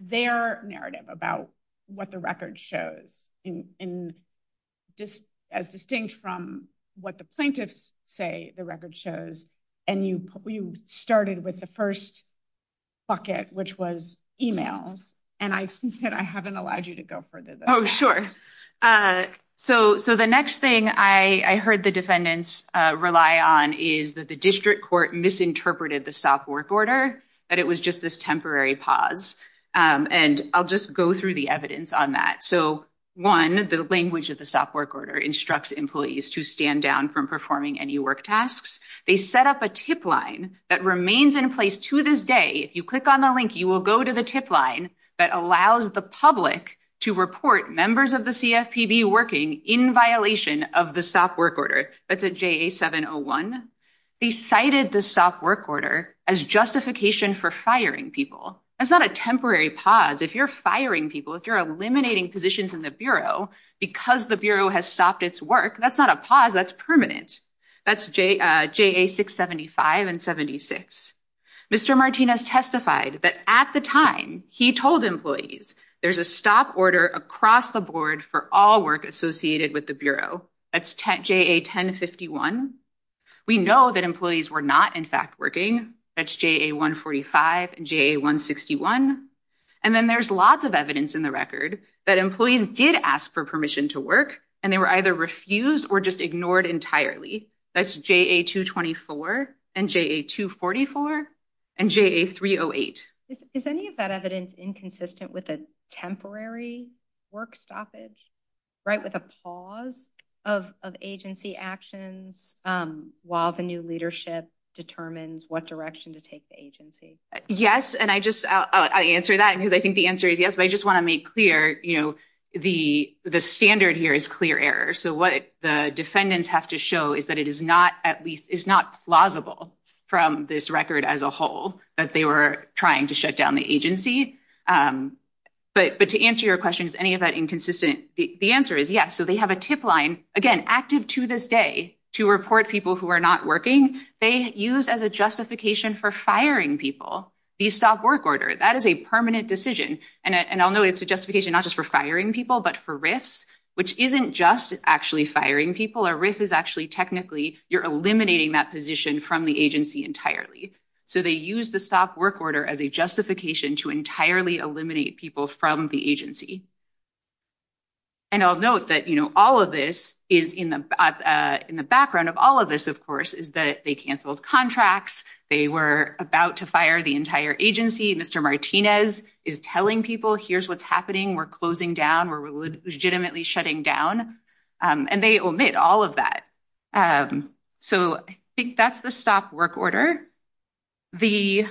their narrative about what the record shows in just as distinct from what the plaintiffs say the record shows. And you started with the first bucket, which was email. And I haven't allowed you to go further. Oh, sure. So the next thing I heard the defendants rely on is that the this temporary pause. And I'll just go through the evidence on that. So one, the language of the SOP work order instructs employees to stand down from performing any work tasks. They set up a tip line that remains in place to this day. If you click on the link, you will go to the tip line that allows the public to report members of the CFPB working in violation of the SOP work order. That's a JA-701. He cited the SOP work order as justification for firing people. That's not a temporary pause. If you're firing people, if you're eliminating positions in the Bureau, because the Bureau has stopped its work, that's not a pause, that's permanent. That's JA-675 and 76. Mr. Martinez testified that at the time he told employees, there's a stop order across the board for all work associated with the Bureau. That's JA-1051. We know that employees were not, in fact, working. That's JA-145 and JA-161. And then there's lots of evidence in the record that employees did ask for permission to work, and they were either refused or just ignored entirely. That's JA-224 and JA-244 and JA-308. Is any of that evidence inconsistent with a temporary work stoppage, right, with a pause of agency action while the new leadership determines what direction to take the agency? Yes, and I just, I'll answer that because I think the answer is yes, but I just want to make clear, you know, the standard here is clear error. So what the defendants have to show is that it is not, at least, it's not plausible from this record as a agency, but to answer your question, is any of that inconsistent? The answer is yes. So they have a tip line, again, active to this day to report people who are not working. They use as a justification for firing people the stop work order. That is a permanent decision, and I'll note it's a justification not just for firing people, but for risk, which isn't just actually firing people. A risk is actually technically you're eliminating that position from the agency entirely. So they use the stop work order as a justification to entirely eliminate people from the agency. And I'll note that, you know, all of this is in the, in the background of all of this, of course, is that they canceled contracts. They were about to fire the entire agency. Mr. Martinez is telling people here's what's happening. We're closing down. We're legitimately shutting down, and they all of that. So I think that's the stop work order. The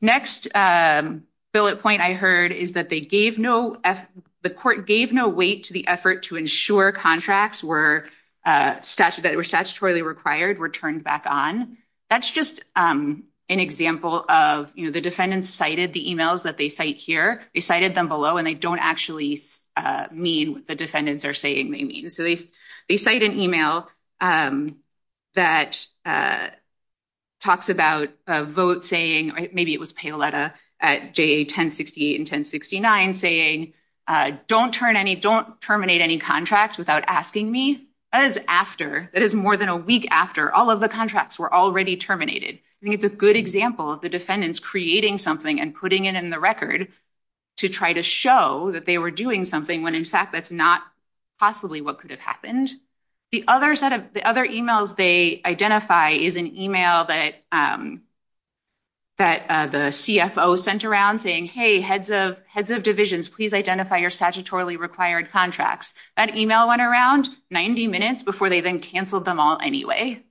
next bullet point I heard is that the court gave no weight to the effort to ensure contracts that were statutorily required were turned back on. That's just an example of, you know, the defendants cited the emails that they cite here. They cited them below, and they don't actually mean what the defendants are saying they mean. So they cite an email that talks about a vote saying, or maybe it was Paoletta at JA 1068 and 1069 saying, don't turn any, don't terminate any contracts without asking me. That is after, that is more than a week after all of the contracts were already terminated. I think it's a good example of the defendants creating something and putting it in the record to try to show that they were doing something when in fact that's not possibly what could have happened. The other set of, the other emails they identify is an email that the CFO sent around saying, hey, heads of divisions, please identify your statutorily required contracts. That email went around 90 minutes before they then canceled them all anyway.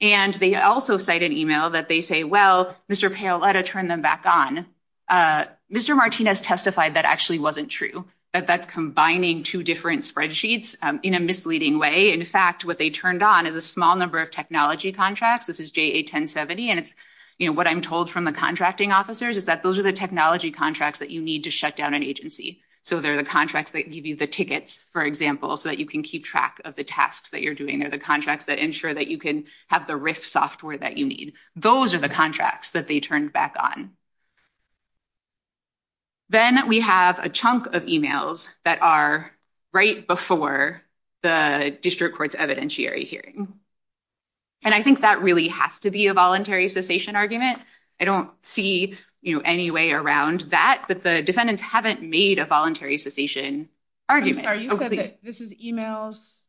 And they also cite an email that they say, well, Mr. Paoletta turned them back on. Mr. Martinez testified that actually wasn't true, that that's combining two different spreadsheets in a misleading way. In fact, what they turned on is a small number of technology contracts. This is JA 1070. And it's, you know, what I'm told from the contracting officers is that those are the technology contracts that you need to shut down an agency. So they're the contracts that give you the tickets, for example, so that you can keep track of the tasks that you're doing or the contracts that ensure that you can have the RIF software that you need. Those are the emails. Then we have a chunk of emails that are right before the district court's evidentiary hearing. And I think that really has to be a voluntary cessation argument. I don't see, you know, any way around that, but the defendants haven't made a voluntary cessation argument. I'm sorry, this is emails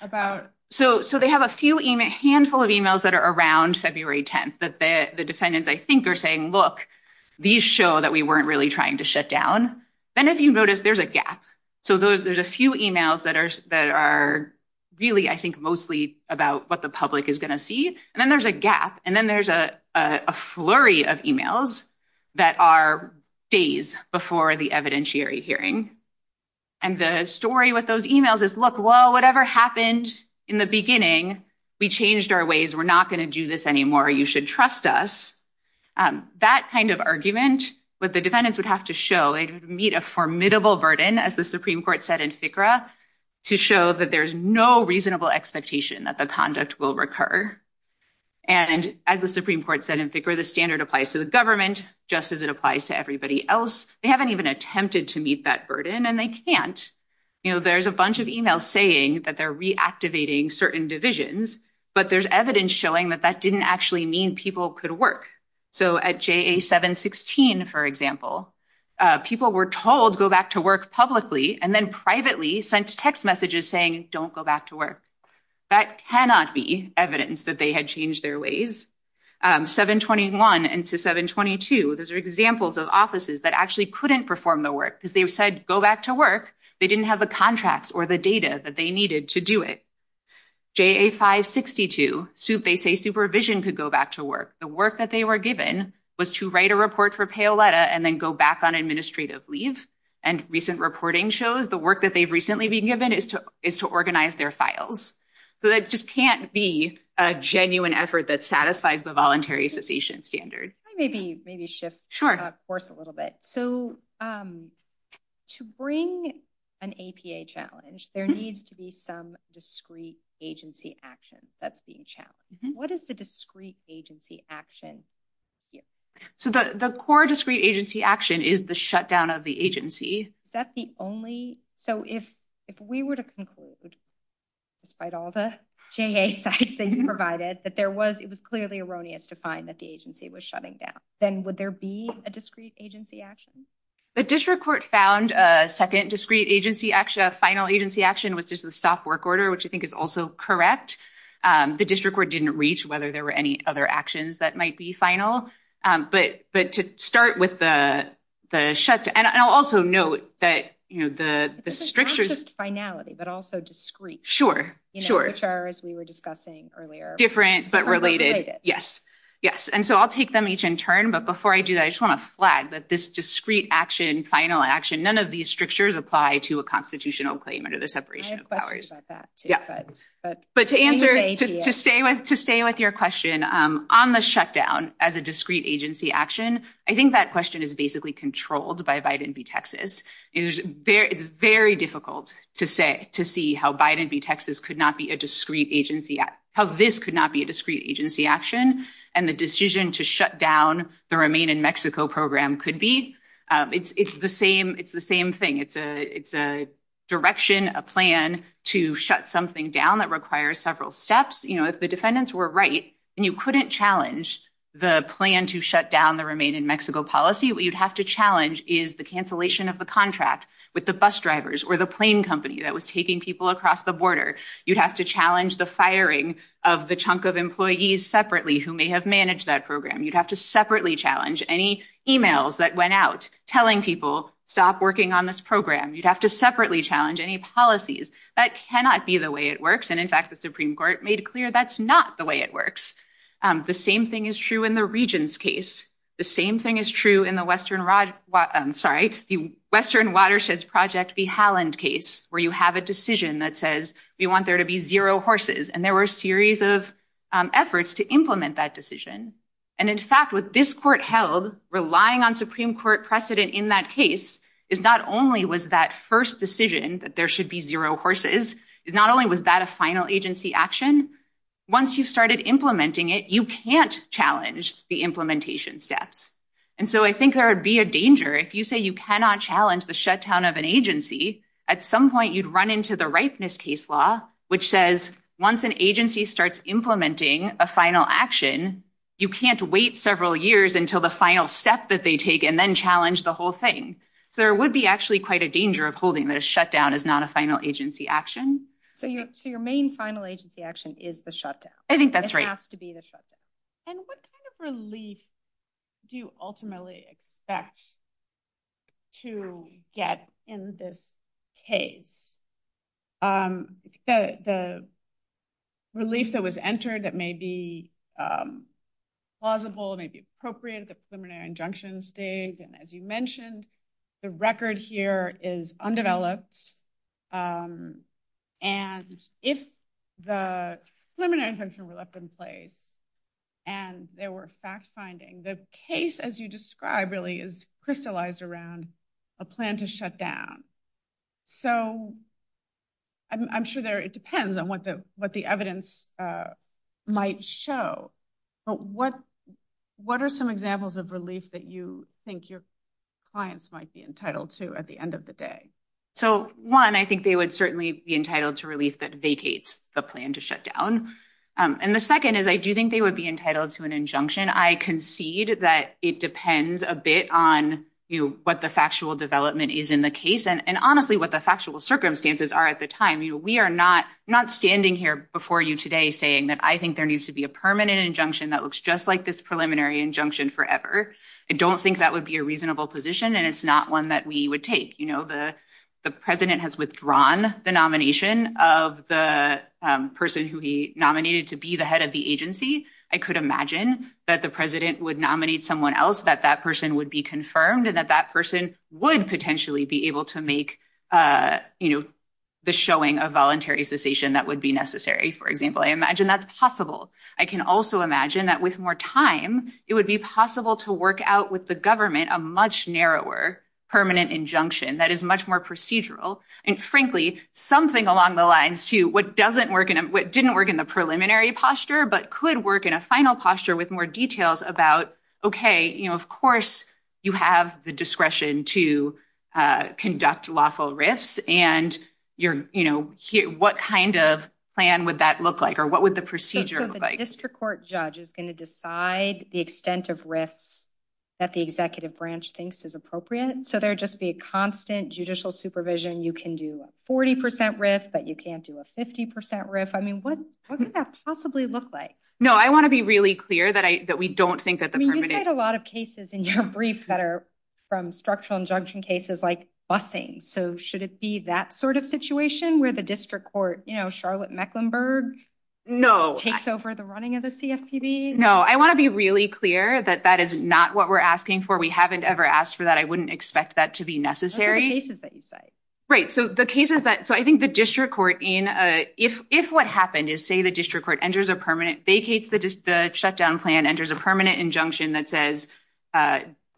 about... So they have a few, a handful of emails that are around February 10th that the defendants, I think, are saying, look, these show that we weren't really trying to shut down. Then if you notice, there's a gap. So there's a few emails that are really, I think, mostly about what the public is going to see. And then there's a gap. And then there's a flurry of emails that are days before the evidentiary hearing. And the story with those emails is, look, well, whatever happened in the beginning, we changed our ways. We're not going to do this anymore. You should trust us. That kind of argument, what the defendants would have to show, it would meet a formidable burden, as the Supreme Court said in FICRA, to show that there's no reasonable expectation that the conduct will recur. And as the Supreme Court said in FICRA, the standard applies to the government, just as it applies to everybody else. They haven't even attempted to meet that burden and they can't. You know, there's a bunch of emails saying that they're reactivating certain divisions, but there's evidence showing that that didn't actually mean people could work. So at JA 716, for example, people were told, go back to work publicly, and then privately sent text messages saying, don't go back to work. That cannot be evidence that they had changed their ways. 721 and to 722, those are examples of offices that actually couldn't perform the work because they've said, go back to work. They didn't have the contracts or the data that they needed to do it. JA 562, they say supervision could go back to work. The work that they were given was to write a report for payoletta and then go back on administrative leave. And recent reporting shows the work that they've recently been given is to organize their files. So that just can't be a genuine effort that satisfies the voluntary cessation standard. Maybe shift course a little bit. So to bring an APA challenge, there needs to be some discrete agency action that's being challenged. What is the discrete agency action? So the core discrete agency action is the shutdown of the agency. That's the only, so if we were to conclude, despite all the JA sites they provided, that there was, it was clearly erroneous to find that the agency was shutting down. Then would there be a discrete agency action? The district court found a second discrete agency action, a final agency action, which is the stop work order, which I think is also correct. The district court didn't reach whether there were any other actions that might be final. But to start with the shutdown, and I'll also note that the strictures... Finality, but also discrete. Sure, sure. Which are, as we were discussing earlier. Different, but related. Yes. Yes. And so I'll take them each in turn. But before I do that, I just want to flag that this discrete action, final action, none of these strictures apply to a constitutional claim under the separation of powers. I have questions about that too. Yeah. But to answer, to stay with your question, on the shutdown as a discrete agency action, I think that question is basically controlled by Biden v. Texas. It's very difficult to say, to see how Biden v. Texas could not be a discrete agency, how this could not be a discrete agency action. And the decision to shut down the Remain in Mexico program could be. It's the same thing. It's a direction, a plan to shut something down that requires several steps. If the defendants were right and you couldn't challenge the plan to shut down the Remain in Mexico policy, what you'd have to challenge is the cancellation of the contract with the bus drivers or the plane company that was taking people across the border. You'd have to challenge the firing of the chunk of employees separately who may have managed that program. You'd have to separately challenge any emails that went out telling people, stop working on this program. You'd have to separately challenge any policies. That cannot be the way it works. And in fact, the Supreme Court made clear that's not the way it works. The same thing is true in the Regions case. The same thing is true in the Western Watersheds Project v. Halland case, where you have a decision that says we want there to be zero horses. And there were a series of efforts to implement that decision. And in fact, what this court held, relying on Supreme Court precedent in that case, is not only was that first decision that there should be zero horses, not only was that a final agency action, once you started implementing it, you can't challenge the implementation steps. And so I think there would be a danger. If you say you cannot challenge the shutdown of an agency, at some point you'd run into the ripeness case law, which says once an agency starts implementing a final action, you can't wait several years until the final step that they take and then challenge the whole thing. So there would be actually quite a danger of holding that a shutdown is not a final agency action. So your main final agency action is the shutdown. I think that's right. It has to be the shutdown. And what kind of relief do you ultimately expect to get in this case? The relief that was entered that may be plausible, may be appropriate at the preliminary injunction stage. And as you mentioned, the record here is undeveloped. And if the preliminary injunction was up in place and there were fact-finding, the case as you described really is crystallized around a plan to shut down. So I'm sure it depends on what the evidence might show. But what are some examples of relief that you think your clients might be entitled to at the end of the day? So one, I think they would certainly be entitled to relief that vacates the plan to shut down. And the second is I do think they would be entitled to an injunction. I concede that it depends a bit on what the factual development is in the case and honestly, what the factual circumstances are at the time. We are not standing here before you today saying that I think there needs to be a permanent injunction that looks just like this preliminary injunction forever. I don't think that would be a reasonable position and it's not one that we would take. The president has withdrawn the nomination of the person who he nominated to be the head of the agency. I could imagine that the president would nominate someone else that that person would be confirmed and that that person would potentially be able to make the showing of voluntary cessation that would be necessary, for example. I imagine that's possible. I can also imagine that with more time, it would be possible to work out with the government a much narrower permanent injunction that is much more procedural and frankly, something along the lines to what didn't work in the preliminary posture but could work in a final posture with more details about, okay, of course you have the discretion to conduct lawful risks and what kind of plan would that look like or what would the procedure look like? So the district court judge is going to decide the extent of risks that the executive branch thinks is appropriate. So there would just be a constant judicial supervision. You can do a 40 percent risk but you can't do a 50 percent risk. I mean, what would that possibly look like? No, I want to be really clear that we don't think that the permanent... I mean, you've had a lot of cases in your brief that are from structural injunction cases like busing. So should it be that sort of situation where the district court, you know, at Mecklenburg takes over the running of the CFPB? No, I want to be really clear that that is not what we're asking for. We haven't ever asked for that. I wouldn't expect that to be necessary. Right, so the case is that... So I think the district court in... If what happened is say the district court enters a permanent... They take the shutdown plan, enters a permanent injunction that says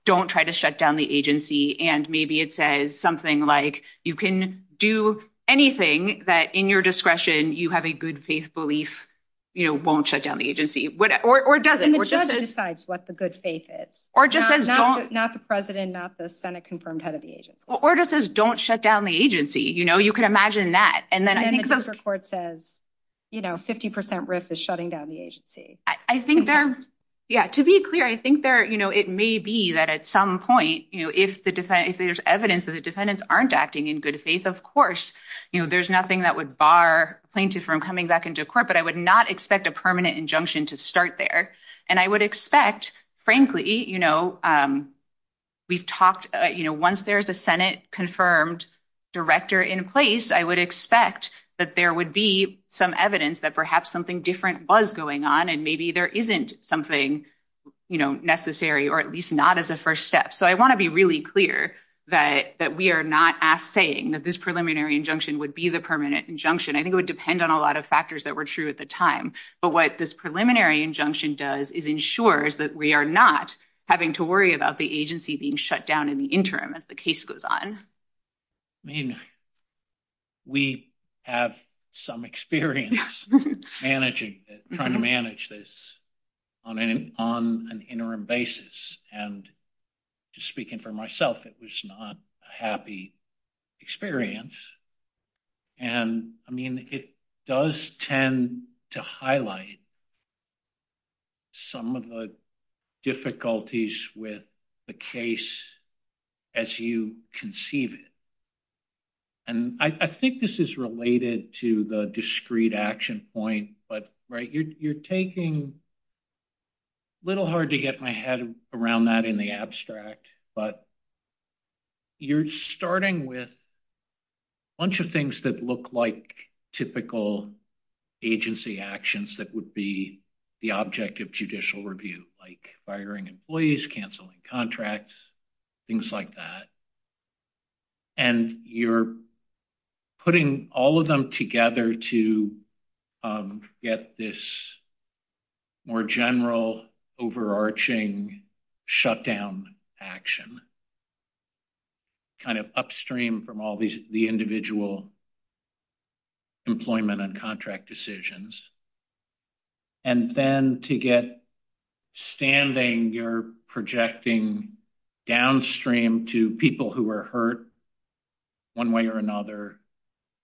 don't try to shut down the agency and maybe it says something like you can do anything that in your discretion you have a good faith belief, you know, won't shut down the agency. Or does it? And the judge decides what the good faith is. Or just says don't... Not the president, not the senate confirmed head of the agency. Or just says don't shut down the agency, you know, you can imagine that. And then the district court says, you know, 50 percent risk is shutting down the agency. I think there... Yeah, to be clear, I think there, you know, it may be that at some point, you know, if the defendant... If there's evidence that the defendants aren't acting in good faith, of course, you know, there's nothing that would bar plaintiff from coming back into court, but I would not expect a permanent injunction to start there. And I would expect, frankly, you know, we've talked, you know, once there's a senate confirmed director in place, I would expect that there would be some evidence that perhaps something different was going on and maybe there isn't something, you know, necessary or at least not as a first step. So I want to be really clear that we are not saying that this preliminary injunction would be the permanent injunction. I think it would depend on a lot of factors that were true at the time. But what this preliminary injunction does is ensures that we are not having to worry about the agency being shut down in the interim as the case goes on. I mean, we have some experience managing, trying to manage this on an interim basis. And just speaking for myself, it was not a happy experience. And I mean, it does tend to highlight some of the difficulties with the case as you conceive it. And I think this is related to the discrete action point. But, right, you're taking a little hard to get my head around that in the abstract. But you're starting with a bunch of things that look like typical agency actions that would be the object of judicial review, like firing employees, canceling contracts, things like that. And you're putting all of them together to get this more general overarching shutdown action, kind of upstream from all the individual employment and contract decisions. And then to get standing, you're projecting downstream to people who are hurt one way or another,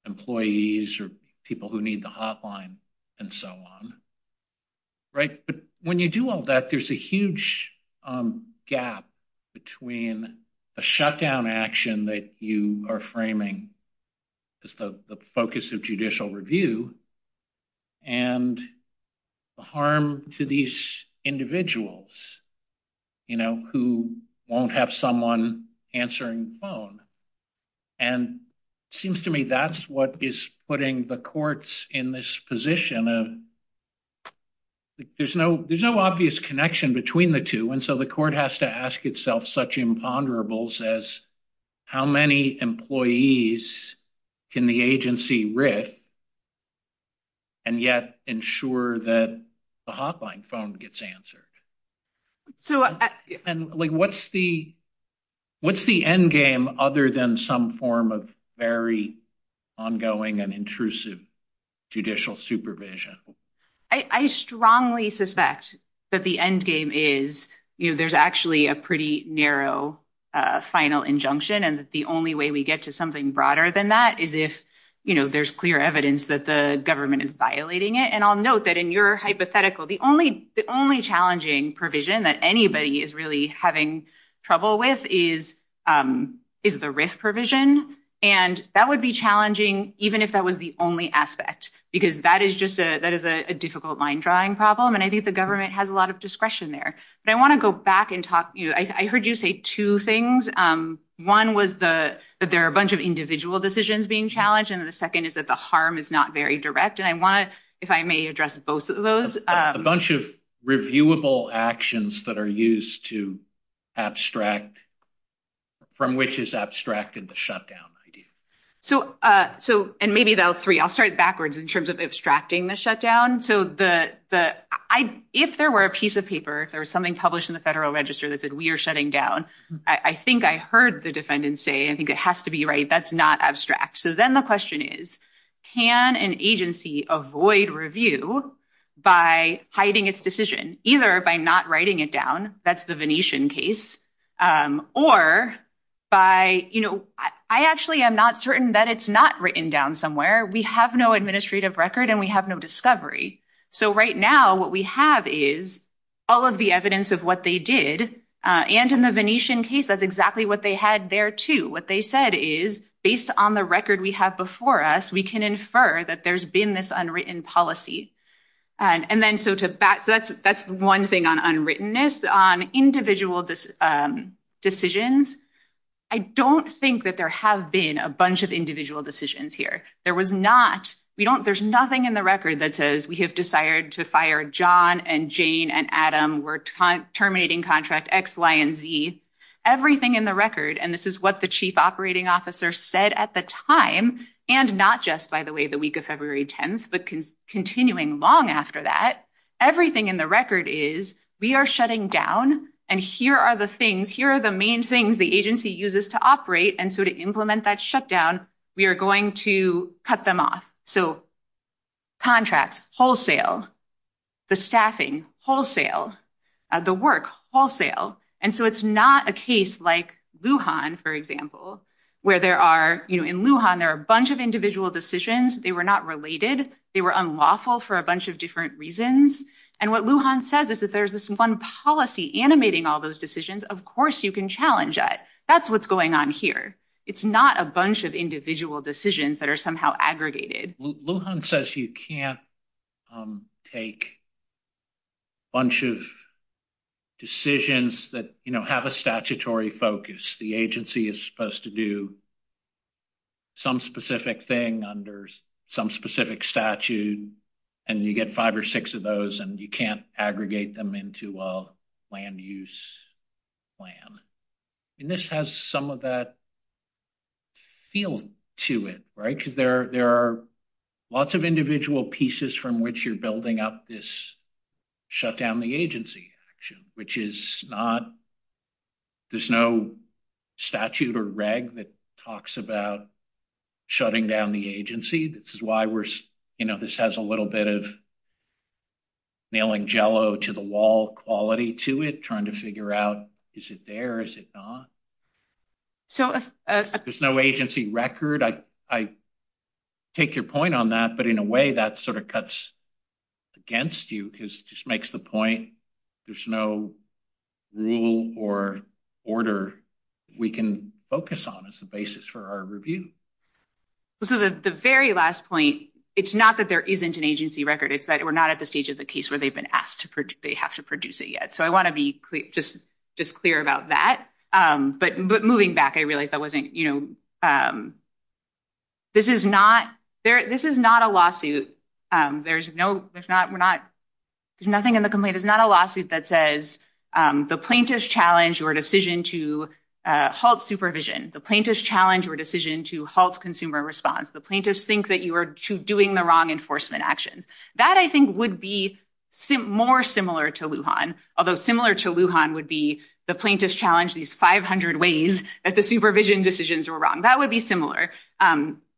employees or people who need the hotline and so on. Right? But when you do all that, there's a huge gap between a shutdown action that you are framing as the focus of judicial review and the harm to these individuals who won't have someone answering the phone. And it seems to me that's what is putting the courts in this position of there's no obvious connection between the two. And so the court has to ask itself such as how many employees can the agency writ and yet ensure that the hotline phone gets answered? And what's the end game other than some form of very ongoing and intrusive judicial supervision? I strongly suspect that the end game is there's actually a pretty narrow final injunction. And the only way we get to something broader than that is if there's clear evidence that the government is violating it. And I'll note that in your hypothetical, the only challenging provision that anybody is really having trouble with is the RIF provision. And that would be even if that was the only aspect, because that is just a difficult line drawing problem. And I think the government has a lot of discretion there. But I want to go back and talk. I heard you say two things. One was that there are a bunch of individual decisions being challenged. And the second is that the harm is not very direct. And I want, if I may address both of those. A bunch of reviewable actions that are used to abstract, from which is abstracted the shutdown. So, and maybe those three, I'll start backwards in terms of abstracting the shutdown. So, if there were a piece of paper, if there was something published in the federal register that said we are shutting down, I think I heard the defendant say, I think it has to be right, that's not abstract. So then the question is, can an agency avoid review by hiding its decision, either by not writing it down, that's the Venetian case, or by, you know, I actually am not certain that it's not written down somewhere. We have no administrative record and we have no discovery. So right now, what we have is all of the evidence of what they did. And in the Venetian case, that's exactly what they had there too. What they said is, based on the record we have before us, we can infer that there's been this unwritten policy. And then, so that's one thing on unwrittenness. On individual decisions, I don't think that there have been a bunch of individual decisions here. There was not, we don't, there's nothing in the record that says we have decided to fire John and Jane and Adam, we're terminating contract X, Y, and Z. Everything in the record, and this is what the chief operating officer said at the time, and not just, by the way, the week of February 10th, but continuing long after that, everything in the record is, we are shutting down and here are the things, here are the main things the agency uses to operate. And so to implement that shutdown, we are going to cut them off. So contracts, wholesale, the staffing, wholesale, the work, wholesale. And so it's not a case like for example, where there are, in Lujan there are a bunch of individual decisions, they were not related, they were unlawful for a bunch of different reasons. And what Lujan says is that there's this one policy animating all those decisions, of course you can challenge it. That's what's going on here. It's not a bunch of individual decisions that are somehow aggregated. Lujan says you can't take a bunch of decisions that have a statutory focus. The agency is supposed to do some specific thing under some specific statute, and you get five or six of those, and you can't aggregate them into a land use plan. And this has some of that feel to it, right? Because there are lots of individual pieces from which you're building up this shutdown the agency action, which is not, there's no statute or reg that talks about shutting down the agency. This is why we're, you know, this has a little bit of nailing jello to the wall quality to it, trying to figure out is it there, is it not? So there's no agency record. I take your point on that, but in a way that sort of cuts against you, because it just makes the point there's no rule or order we can focus on as a basis for our review. So the very last point, it's not that there isn't an agency record, it's that we're not at the stage of the case where they've been asked to produce, they have to produce it yet. So I want to be just clear about that. But moving back, I realize that wasn't, you know, this is not, this is not a lawsuit. There's no, there's not, we're not, there's nothing in the complaint. It's not a lawsuit that says the plaintiff's challenged your decision to halt supervision. The plaintiff's challenged your decision to halt consumer response. The plaintiff's think that you were doing the wrong enforcement action. That I think would be more similar to Lujan, although similar to Lujan would be the plaintiff's challenged these 500 ways that the supervision decisions were wrong. That would be similar.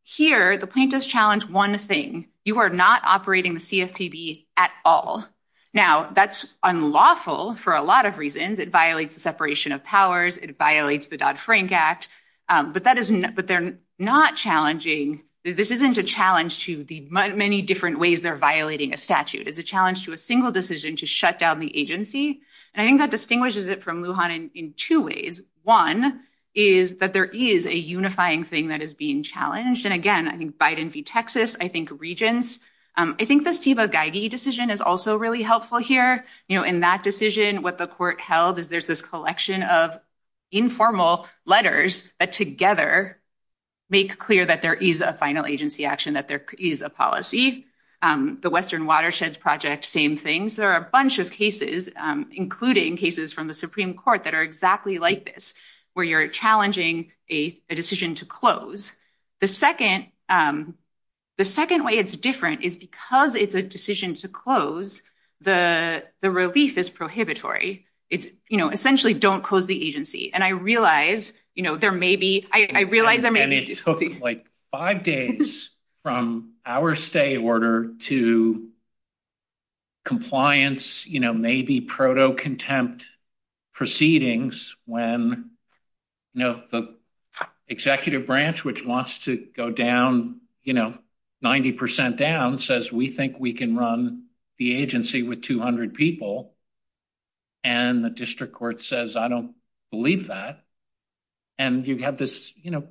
Here, the plaintiff's challenged one thing, you are not operating the CFPB at all. Now, that's unlawful for a lot of reasons. It violates the separation of powers. It violates the Dodd-Frank Act. But that is, but they're not challenging, this isn't a challenge to the many different ways they're violating a statute. It's a challenge to a single decision to shut down the agency. And I think that distinguishes it from Lujan in two ways. One is that there is a unifying thing that is being challenged. And again, I think Biden v. Texas, I think Regents. I think the Siva-Geigy decision is also really helpful here. You know, in that decision, what the court held is there's this collection of informal letters that together make clear that there is a final agency action, that there is a policy. The Western Watersheds Project, same things. There are a bunch of cases, including cases from the Supreme Court that are exactly like this, where you're challenging a decision to close. The second way it's different is because it's a decision to close, the release is prohibitory. It's, you know, essentially don't close the agency. And I realize, you know, there may be, I realize there may be issues. And it took like five days from our stay order to compliance, you know, maybe proto contempt proceedings when, you know, the executive branch, which wants to go down, you know, 90% down says we think we can run the agency with 200 people. And the district court says, I don't believe that. And you have this, you know,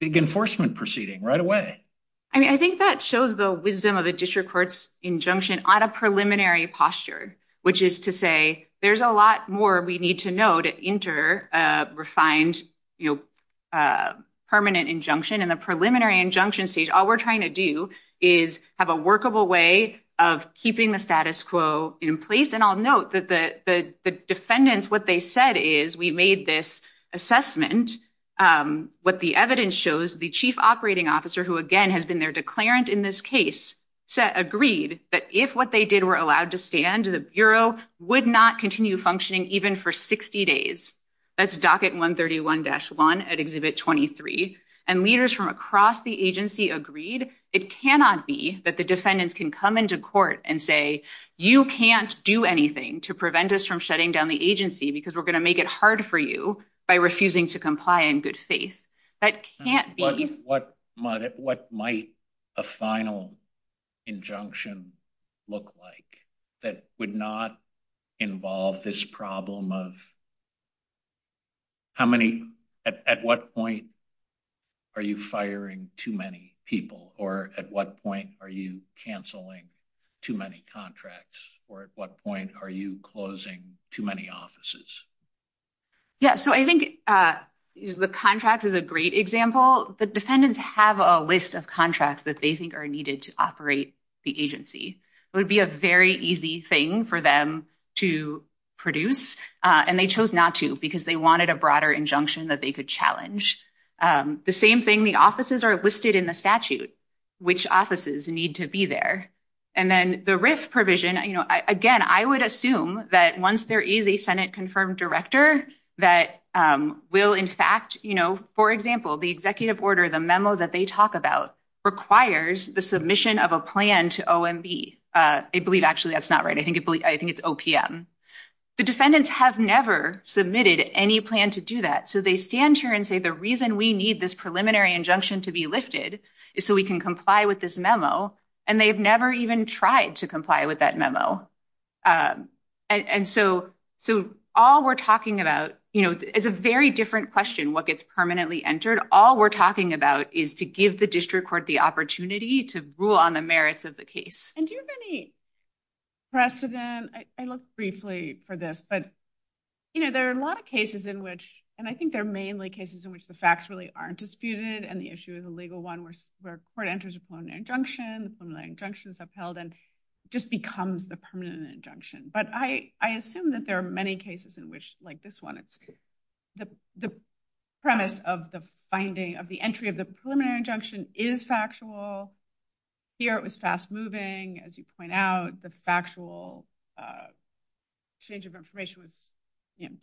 big enforcement proceeding right away. I mean, I think that shows the wisdom of the district court's injunction on a preliminary posture, which is to say, there's a lot more we need to know to enter a refined, you know, permanent injunction and the preliminary injunction All we're trying to do is have a workable way of keeping the status quo in place. And I'll note that the defendants, what they said is we made this assessment. What the evidence shows the chief operating officer, who again has been their declarant in this case, agreed that if what they did were allowed to stand, the Bureau would not continue functioning even for 60 days. That's agreed. It cannot be that the defendants can come into court and say, you can't do anything to prevent us from shutting down the agency because we're going to make it hard for you by refusing to comply in good faith. That can't be What might a final injunction look like that would not involve this problem of how many, at what point are you firing too many people? Or at what point are you canceling too many contracts? Or at what point are you closing too many offices? Yeah, so I think the contract is a great example. The defendants have a list of contracts that they needed to operate the agency. It would be a very easy thing for them to produce. And they chose not to because they wanted a broader injunction that they could challenge. The same thing, the offices are listed in the statute, which offices need to be there. And then the risk provision, again, I would assume that once there is a Senate confirmed director, that will in fact, for example, the executive order, the memo that they talk about requires the submission of a plan to OMB. I believe, actually, that's not right. I think it's OPM. The defendants have never submitted any plan to do that. So they stand here and say, the reason we need this preliminary injunction to be lifted is so we can comply with this memo. And they've never even tried to comply with that memo. And so all we're talking about is a very different question, what gets permanently entered. All we're talking about is to give the district court the opportunity to rule on the merits of the case. And do you have any precedent? I looked briefly for this, but there are a lot of cases in which, and I think they're mainly cases in which the facts really aren't disputed and the issue is a legal one where court enters a preliminary injunction, preliminary injunctions upheld, and just becomes the permanent injunction. But I assume that there are many cases in which, like this one, it's the premise of the finding of the entry of the preliminary injunction is factual. Here it was fast moving, as you point out, the factual exchange of information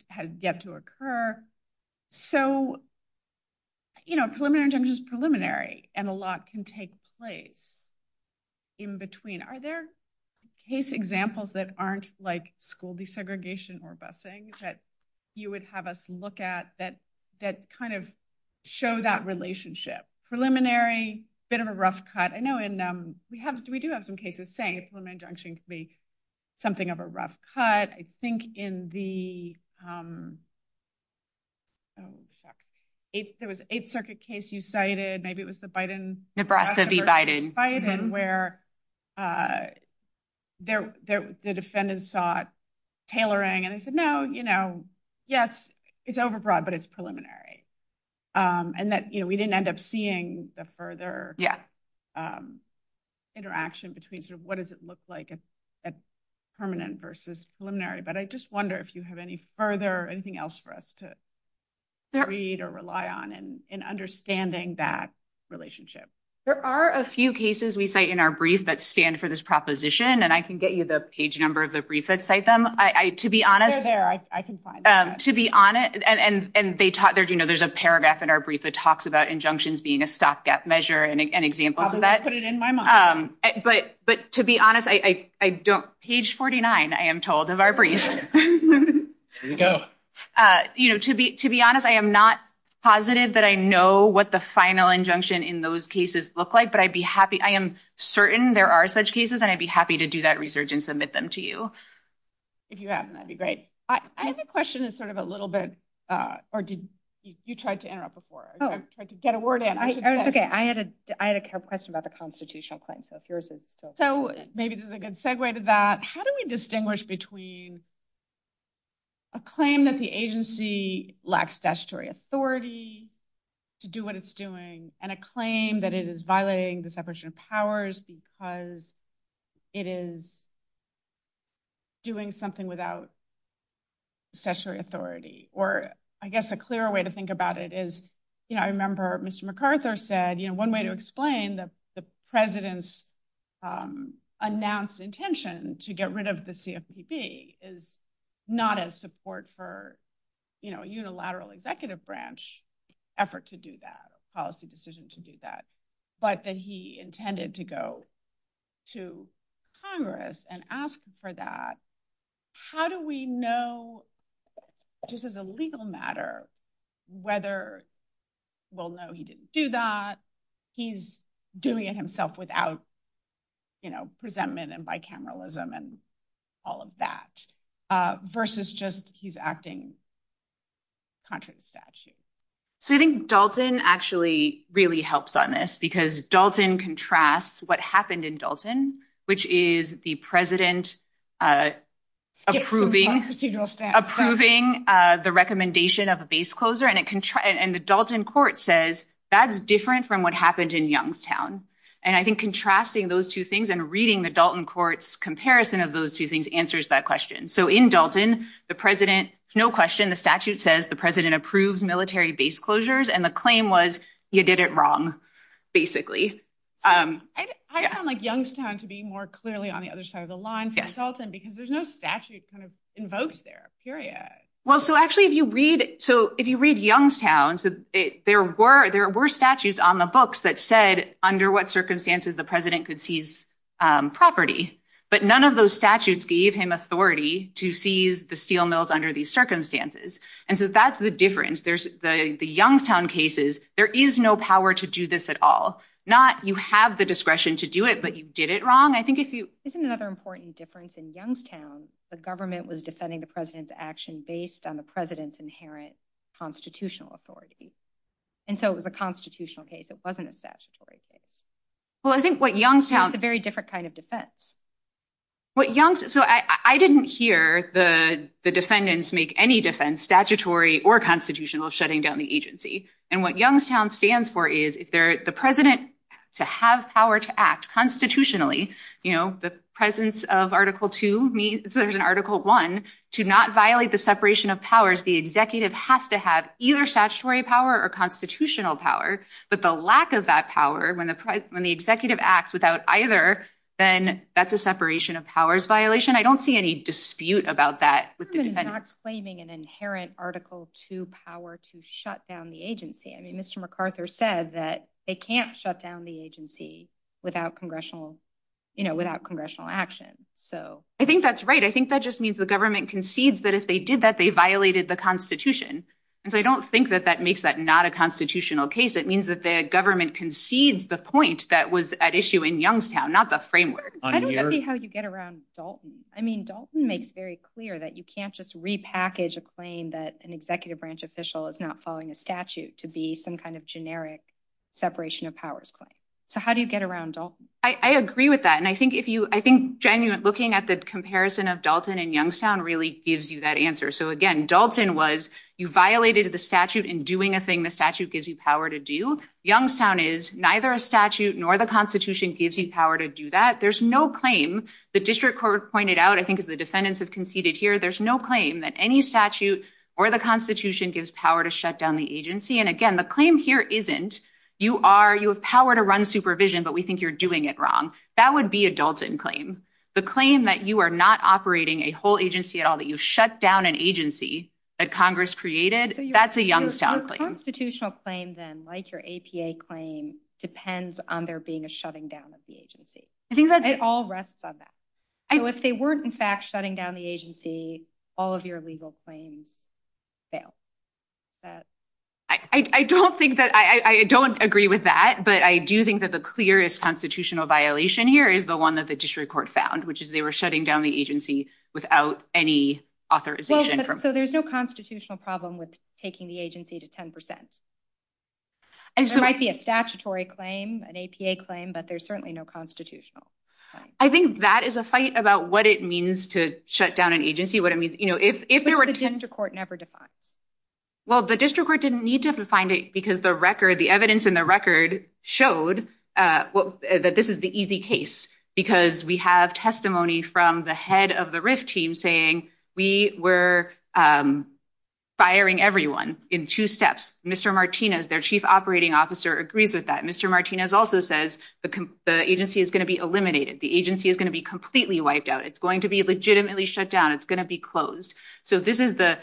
has yet to occur. So preliminary injunction is preliminary and a lot can take place in between. Are there case examples that aren't like school desegregation or busing that you would have us look at that kind of show that relationship? Preliminary, a bit of a rough cut. I know we do have some cases saying a preliminary injunction can be something of a rough cut. I think in the, there was an Eighth Circuit case you cited, maybe it was the Biden. Nebraska v. Biden. Biden, where the defendants saw it tailoring and they said, no, you know, yes, it's overbroad, but it's preliminary. And that, you know, we didn't end up seeing the further interaction between sort of what does it look like at permanent versus preliminary. But I just wonder if you have any further, anything else for us to read or rely on in understanding that relationship. There are a few cases we say in our brief that stand for this proposition, and I can get you the page number of the brief that cite them. I, to be honest. They're there, I can find them. To be honest, and they talk, you know, there's a paragraph in our brief that talks about injunctions being a stopgap measure and examples of that. I'll put it in my mind. But to be honest, I don't, page 49, I am told of our brief. There you go. You know, to be honest, I am not positive that I know what the final injunction in those cases look like, but I'd be happy, I am certain there are such cases, and I'd be happy to do that research and submit them to you. If you haven't, that'd be great. I have a question that's sort of a little bit, or did, you tried to interrupt before. I tried to get a word in. Okay, I had a question about the constitutional claim. So maybe this is a good segue to that. How do we distinguish between a claim that the agency lacks statutory authority to do what it's doing and a claim that it is violating the separation of powers because it is doing something without statutory authority? Or I guess a clearer way to think about it is, you know, I remember Mr. MacArthur said, you know, one way to explain the president's announced intention to get rid of the CFPB is not as support for, you know, unilateral executive branch effort to do that, policy decision to do that, but that he intended to go to Congress and ask for that. How do we know, just as a legal matter, whether, well, no, he didn't do that. He's doing it himself without, you know, resentment and bicameralism and all of that versus just he's acting contrary to statute. So I think Dalton actually really helps on this because Dalton contrasts what happened in Dalton, which is the president approving the recommendation of a base closure and the Dalton court says that's different from what happened in Youngstown. And I think contrasting those two things and reading the Dalton court's comparison of those two things answers that question. So in Dalton, the president, no question, the statute says the president approves military base closures and the claim was you did it wrong, basically. I found like Youngstown to be more clearly on the other side of the line for Dalton, because there's no statute kind of invoked there, period. Well, so actually if you read, so if you read Youngstown, there were statutes on the books that said under what circumstances the president could seize property, but none of those statutes gave him authority to seize the steel mills under these circumstances. And so that's the difference. The Youngstown cases, there is no power to do this at all. Not you have the discretion to do it, but you did it wrong. I think if you- Isn't another important difference in Youngstown, the government was defending the president's action based on the president's inherent constitutional authority. And so it was a constitutional case. It wasn't a statutory case. Well, I think what Youngstown- It's a very different kind of defense. What Youngstown- So I didn't hear the defendants make any defense statutory or constitutional shutting down the agency. And what Youngstown stands for is if the president to have power to act constitutionally, the presence of article two means there's an article one, to not violate the separation of powers, the executive has to have either statutory power or constitutional power, but the lack of that power when the executive acts without either, then that's a separation of powers violation. I don't see any dispute about that. The government is not claiming an inherent article two power to shut down the agency. I mean, Mr. MacArthur said that it can't shut down the agency without congressional action. So- I think that's right. I think that just means the government concedes that if they did that, they violated the constitution. And so I don't think that that makes that not a constitutional case. It means that the government concedes the point that was at issue in Youngstown, not the framework. I don't see how you get around Dalton. I mean, Dalton makes very clear that you can't just repackage a claim that an executive branch official is not following a statute to be some kind of generic separation of powers claim. So how do you get around Dalton? I agree with that. And I think genuine looking at the comparison of Dalton and Youngstown really gives you that answer. So again, Dalton was, you violated the statute in doing a thing, the statute gives you power to do. Youngstown is neither a statute nor the constitution gives you power to do that. There's no claim. The district court pointed out, I think, as the defendants have conceded here, there's no claim that any statute or the constitution gives power to shut down the agency. And again, the claim here isn't, you have power to run supervision, but we think you're doing it wrong. That would be a Dalton claim. The claim that you are not operating a whole agency at all, that you shut down an agency that Congress created, that's a Youngstown claim. A constitutional claim then, like your APA claim, depends on there being a shutting down of the agency. It all rests on that. So if they weren't, in fact, shutting down the agency, all of your legal claims fail. I don't agree with that, but I do think that the clearest constitutional violation here is the one that the district court found, which is they were shutting down the agency without any authorization from Congress. So there's no constitutional problem with taking the agency to 10%. There might be a statutory claim, an APA claim, but there's certainly no constitutional claim. I think that is a fight about what it means to shut down an agency, what it means... But the district court never defined it. Well, the district court didn't need to have defined it because the evidence in the record showed that this is the easy case because we have testimony from the head of the RIF team saying we were firing everyone in two steps. Mr. Martinez, their chief operating officer, agrees with that. Mr. Martinez also says the agency is going to be eliminated. The agency is going to be completely wiped out. It's going to be legitimately shut down. It's going to be closed. So this is the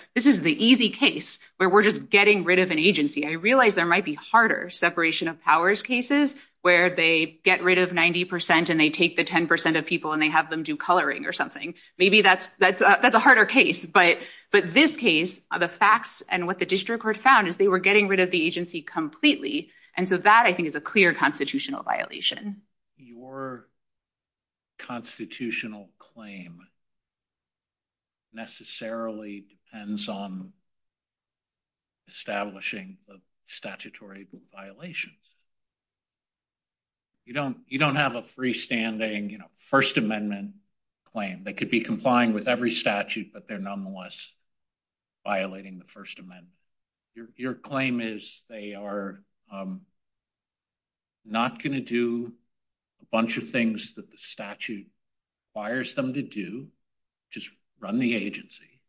easy case where we're just getting rid of an agency. I realize there might be harder separation of powers cases where they get rid of 90% and they take the 10% of people and have them do coloring or something. Maybe that's a harder case. But this case, the facts and what the district court found is they were getting rid of the agency completely. And so that, I think, is a clear constitutional violation. Your constitutional claim necessarily depends on establishing the statutory violations. You don't have a freestanding First Amendment claim. They could be complying with every statute, but they're nonetheless violating the First Amendment. Your claim is they are not going to do a bunch of things that the statute requires them to do, just run the agency,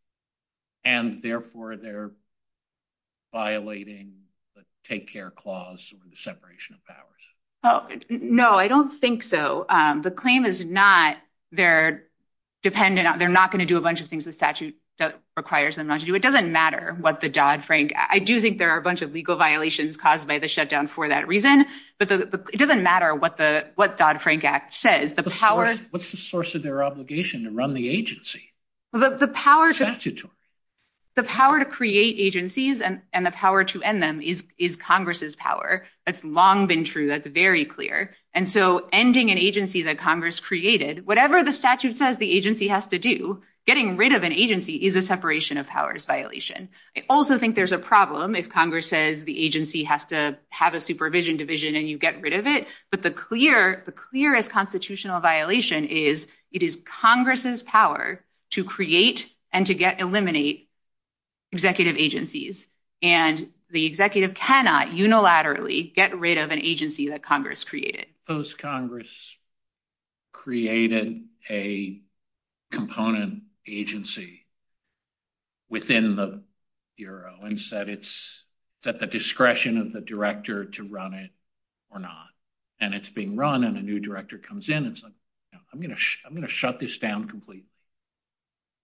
and therefore they're violating the take care clause or the separation of powers. No, I don't think so. The claim is not they're dependent, they're not going to do a bunch of things the statute requires them not to do. It doesn't matter what the Dodd-Frank, I do think there are a bunch of legal violations caused by the shutdown for that reason, but it doesn't matter what the Dodd-Frank Act says. What's the source of their obligation to run the agency? The power to create agencies and the power to end them is Congress's power. That's long been true. That's very clear. And so ending an agency that Congress created, whatever the statute says the agency has to do, getting rid of an agency is a separation of powers violation. I also think there's a problem if Congress says the agency has to have a supervision division and you get rid of it, but the clearest constitutional violation is it is Congress's power to create and to get, eliminate executive agencies. And the executive cannot unilaterally get rid of an agency that Congress created. Post-Congress created a component agency within the Bureau and said it's at the discretion of the director to run it or not. And it's being run and a new director comes in. It's like, I'm going to shut this down completely.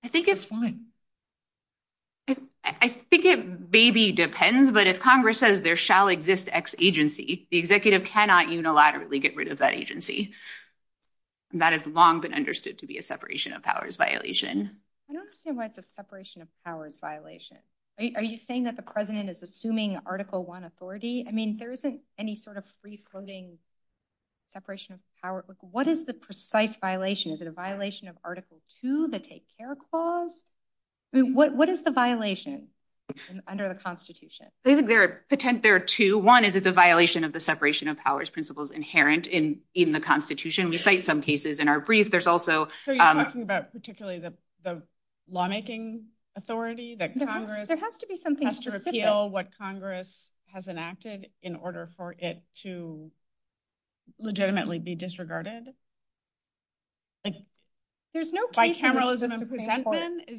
I think it's fine. I think it maybe depends, but if Congress says there shall exist X agency, the executive cannot unilaterally get rid of that agency. That has long been understood to be a separation of powers violation. I don't understand why it's a separation of powers violation. Are you saying that the assuming article one authority? I mean, there isn't any sort of free-floating separation of power. What is the precise violation? Is it a violation of article two, the take care clause? What is the violation under the constitution? I think there are two. One is it's a violation of the separation of powers principles inherent in the constitution. We cite some cases in our brief. There's also- So you're talking about particularly the lawmaking authority that there has to be something specific. There has to appeal what Congress has enacted in order for it to legitimately be disregarded. There's no case- Bicameralism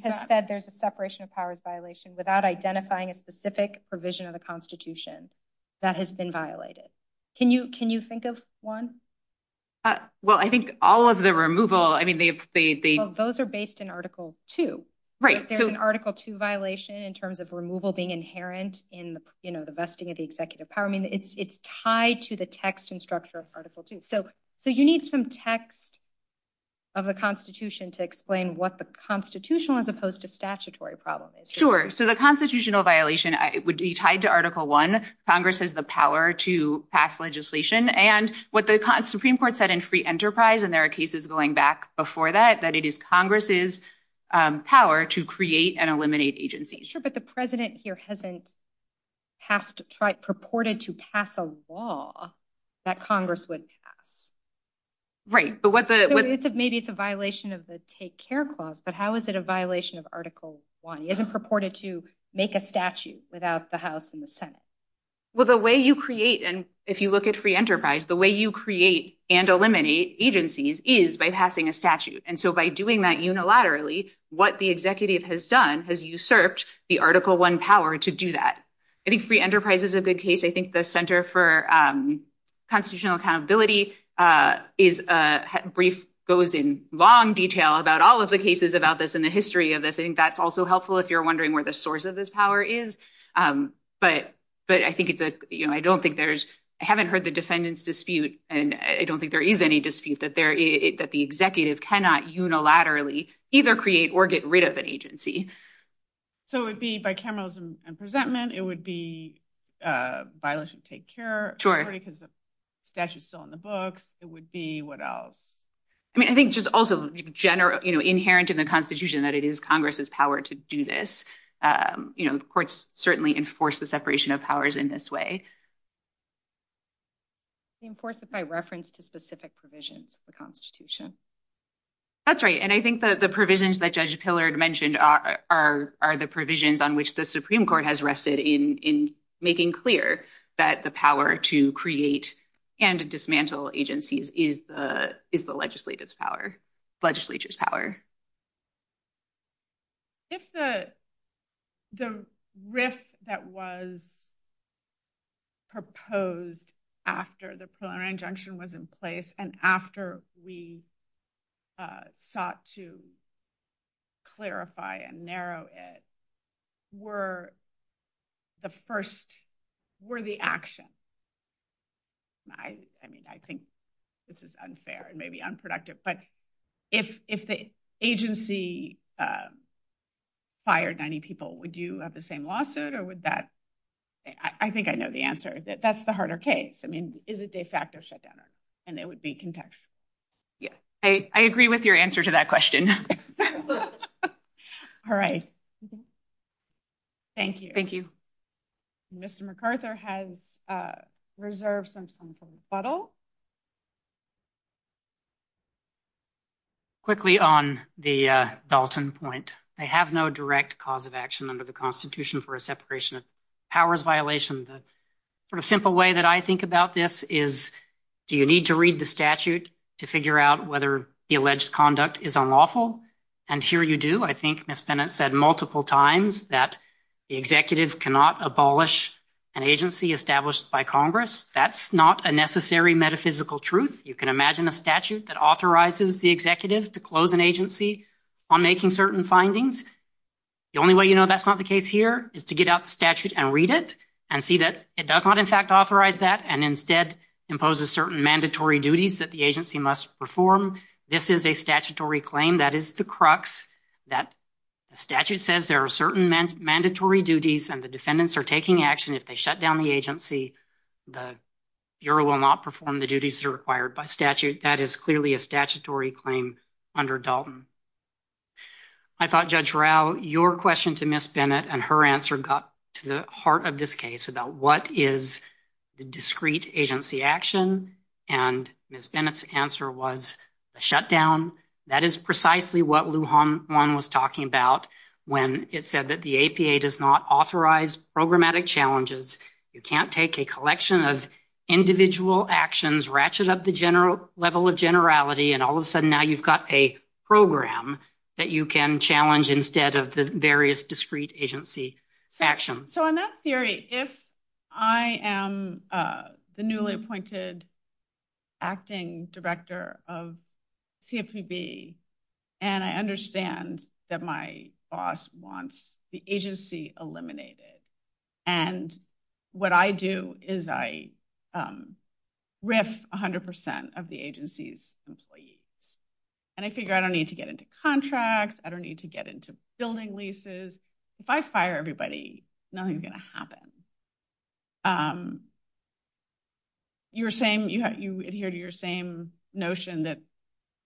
has said there's a separation of powers violation without identifying a specific provision of the constitution that has been violated. Can you think of one? Well, I think all of the removal, I mean, they've- Those are based in article two. There's an article two violation in terms of removal being inherent in the vesting of the executive power. I mean, it's tied to the text and structure of article two. So you need some text of a constitution to explain what the constitutional as opposed to statutory problem is. Sure. So the constitutional violation would be tied to article one. Congress has the power to pass legislation. And what the Supreme Court said in free enterprise, and there are cases going back before that, that it is Congress's power to create and eliminate agencies. Sure. But the president here hasn't purported to pass a law that Congress would pass. Right. But what the- Maybe it's a violation of the take care clause, but how is it a violation of article one? It isn't purported to make a statute without the house and the senate. Well, the way you create, and if you look at free enterprise, the way you create and eliminate agencies is by passing a statute. And so by doing that unilaterally, what the executive has done has usurped the article one power to do that. I think free enterprise is a good case. I think the Center for Constitutional Accountability is a brief, goes in long detail about all of the cases about this in the history of this. I think that's also helpful if you're wondering where the source of this power is. But I think it's a- I haven't heard the defendant's dispute, and I don't think there is any dispute that the executive cannot unilaterally either create or get rid of an agency. So it would be by capitalism and presentment, it would be violation of take care- Sure. Because the statute's still in the books, it would be what else? I mean, I think just also inherent in the constitution that it is Congress's power to do this. Courts certainly enforce the separation of powers in this way. Enforce it by reference to specific provisions of the constitution. That's right. And I think the provisions that Judge Pillard mentioned are the provisions on which the Supreme Court has rested in making clear that the power to create and dismantle agencies is the legislative's power, legislature's power. If the risk that was proposed after the preliminary injunction was in place and after we sought to clarify and narrow it were the first- were the action- I mean, I think this is unfair and maybe unproductive, but if the agency fired 90 people, would you have the same lawsuit or would that- I think I know the answer. That's the harder case. I mean, is it de facto shutdown? And it would be context. Yes. I agree with your answer to that question. All right. Thank you. Thank you. Mr. McArthur has reserved some time for rebuttal. Quickly on the Dalton point, I have no direct cause of action under the constitution for a separation of powers violation. The sort of simple way that I think about this is do you need to read the statute to figure out whether the alleged conduct is unlawful? And here you do. I think Mr. Bennett said multiple times that the executive cannot abolish an agency established by Congress. That's not a necessary metaphysical truth. You can imagine a statute that authorizes the executive to close an agency on making certain findings. The only way you know that's not the case here is to get out the statute and read it and see that it does not in fact authorize that and instead imposes certain mandatory duties that the agency must perform. This is a statutory claim that is the crux that the statute says there are certain mandatory duties and the defendants are taking action. If they shut down the agency, the Bureau will not perform the duties required by statute. That is clearly a statutory claim under Dalton. I thought Judge Rowe, your question to Ms. Bennett and her answer got to the heart of this case about what is the discrete agency action. And Ms. Bennett's answer was a shutdown. That is precisely what Lujan was talking about when it said that the APA does not authorize programmatic challenges. You can't take a collection of individual actions, ratchet up the general level of generality, and all of a sudden now you've got a program that you can challenge instead of the various discrete agency actions. So in that theory, if I am the newly appointed acting director of CFPB and I understand that my boss wants the agency eliminated and what I do is I riff 100% of the agency's employees. And I figure I don't need to get into contracts. I don't need to get into building leases. If I fire everybody, nothing's going to happen. You adhere to your same notion that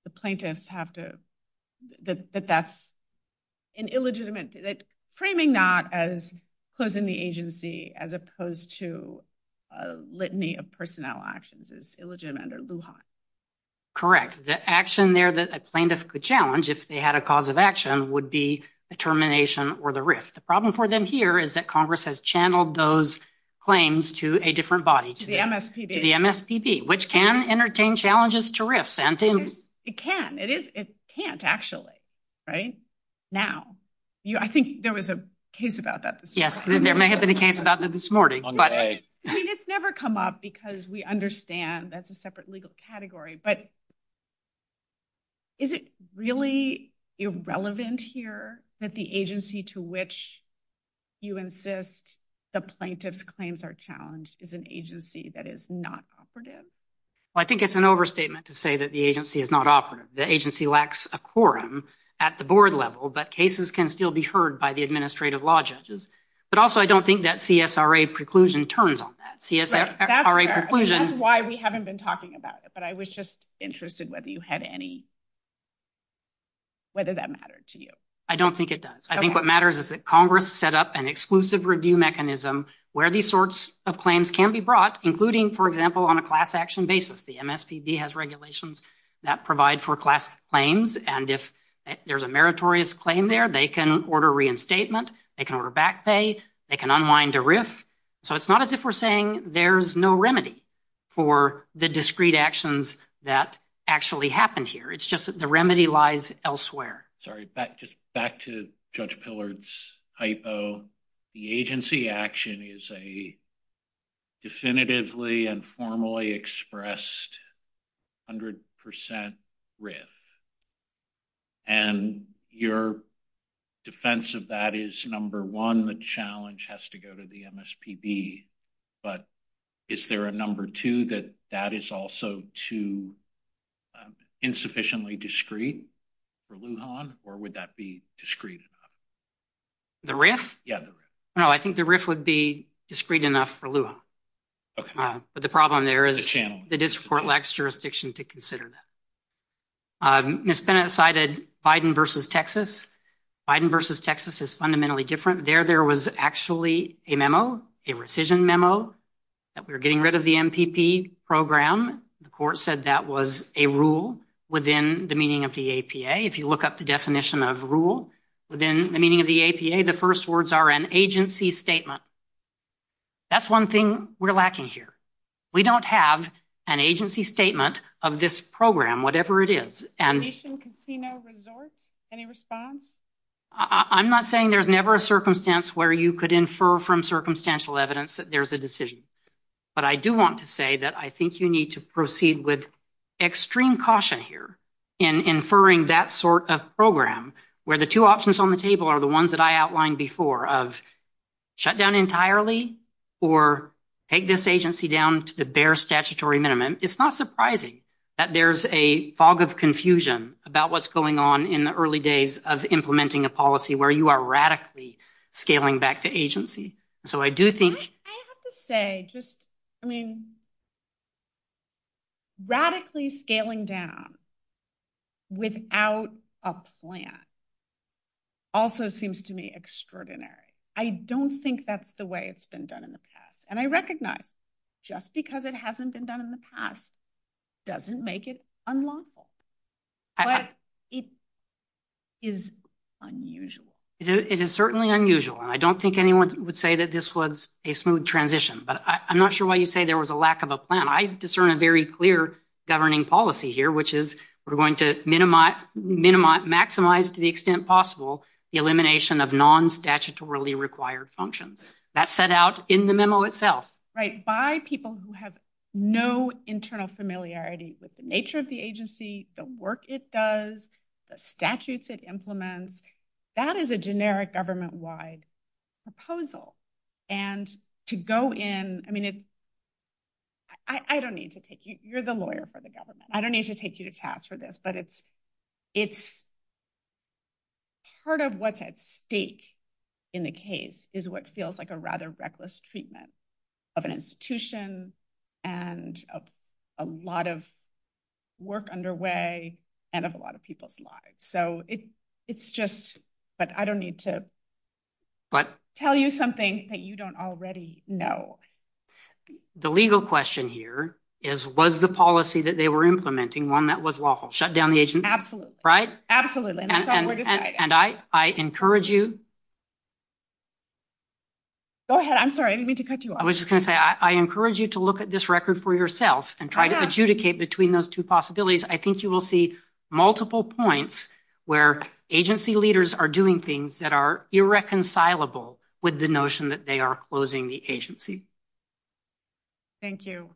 the plaintiffs have to, that that's an illegitimate, that framing that as closing the agency as opposed to a litany of personnel actions is illegitimate under Lujan. Correct. The action there that a plaintiff could challenge if they had a cause of action would be the termination or the rift. The problem for them here is that Congress has channeled those claims to a different body. To the MSPB. To the MSPB, which can entertain challenges to rifts. It can. It can't actually. Right now. I think there was a case about that this morning. Yes, there may have been a case about that this morning. It's never come up because we understand that's a separate legal category, but is it really irrelevant here that the agency to which you insist the plaintiff claims are challenged is an agency that is not operative? Well, I think it's an overstatement to say that the agency is not operative. The agency lacks a quorum at the board level, but cases can still be heard by the administrative law judges. But also, I don't think that CSRA preclusion turns on that. That's why we haven't been talking about it, but I was just interested whether that mattered to you. I don't think it does. I think what matters is that Congress set up an exclusive review mechanism where these sorts of claims can be brought, including, for example, on a class action basis. The MSPB has regulations that provide for class claims, and if there's a meritorious claim there, they can order reinstatement. They can order back pay. They can unwind a RIF. So it's not as if we're saying there's no remedy for the discrete actions that actually happened here. It's just that the remedy lies elsewhere. Sorry, back to Judge Pillard's hypo. The agency action is a definitively and formally expressed 100% RIF, and your defense of that is, number one, the challenge has to go to the MSPB, but is there a number two that that is also too insufficiently discrete for Lujan, or would that be discrete? The RIF? Yeah. No, I think the RIF would be discrete enough for Lujan. Okay. But the problem there is the district court lacks jurisdiction to consider that. Ms. Bennett cited Biden versus Texas. Biden versus Texas is fundamentally different. There, there was actually a memo, a rescission memo, that we're getting rid of the MPP program. The court said that was a rule within the meaning of the APA. If you look up the definition of rule within the meaning of the APA, the first words are an agency statement. That's one thing we're lacking here. We don't have an agency statement of this program, whatever it is, and- Any response? I'm not saying there's never a circumstance where you could infer from circumstantial evidence that there's a decision, but I do want to say that I think you need to proceed with extreme caution here in inferring that sort of program where the two options on the table are ones that I outlined before of shut down entirely or take this agency down to the bare statutory minimum. It's not surprising that there's a fog of confusion about what's going on in the early days of implementing a policy where you are radically scaling back to agency. So I do think- I have to say, just, I mean, radically scaling down without a plan also seems to me extraordinary. I don't think that's the way it's been done in the past. And I recognize just because it hasn't been done in the past doesn't make it unlawful, but it is unusual. It is certainly unusual. And I don't think anyone would say that this was a smooth transition, but I'm not sure why you say there was a lack of a plan. I discern a very clear governing policy here, which is we're going to maximize to the extent possible the elimination of non-statutorily required functions. That's set out in the memo itself. Right. By people who have no internal familiarity with the nature of the agency, the work it does, the statutes it implements, that is a generic government-wide proposal. And to go in, I mean, I don't need to take you- you're the lawyer for the government. I don't need to take you to task for this, but it's part of what's at stake in the case is what feels like a rather reckless treatment of an institution and a lot of work underway and of a lot of people's lives. So it's just that I don't need to tell you something that you don't already know. The legal question here is, was the policy that they were implementing one that was lawful? Shut down the agency? Absolutely. Right? Absolutely. And I encourage you- Go ahead. I'm sorry. I didn't mean to cut you off. I was just going to say, I encourage you to look at this record for yourself and try to adjudicate between those two possibilities. I think you will see multiple points where agency leaders are doing things that are irreconcilable with the notion that they are closing the agency. Thank you.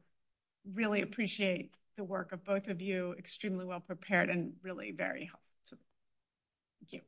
Really appreciate the work of both of you. Extremely well-prepared and really very helpful. Thank you.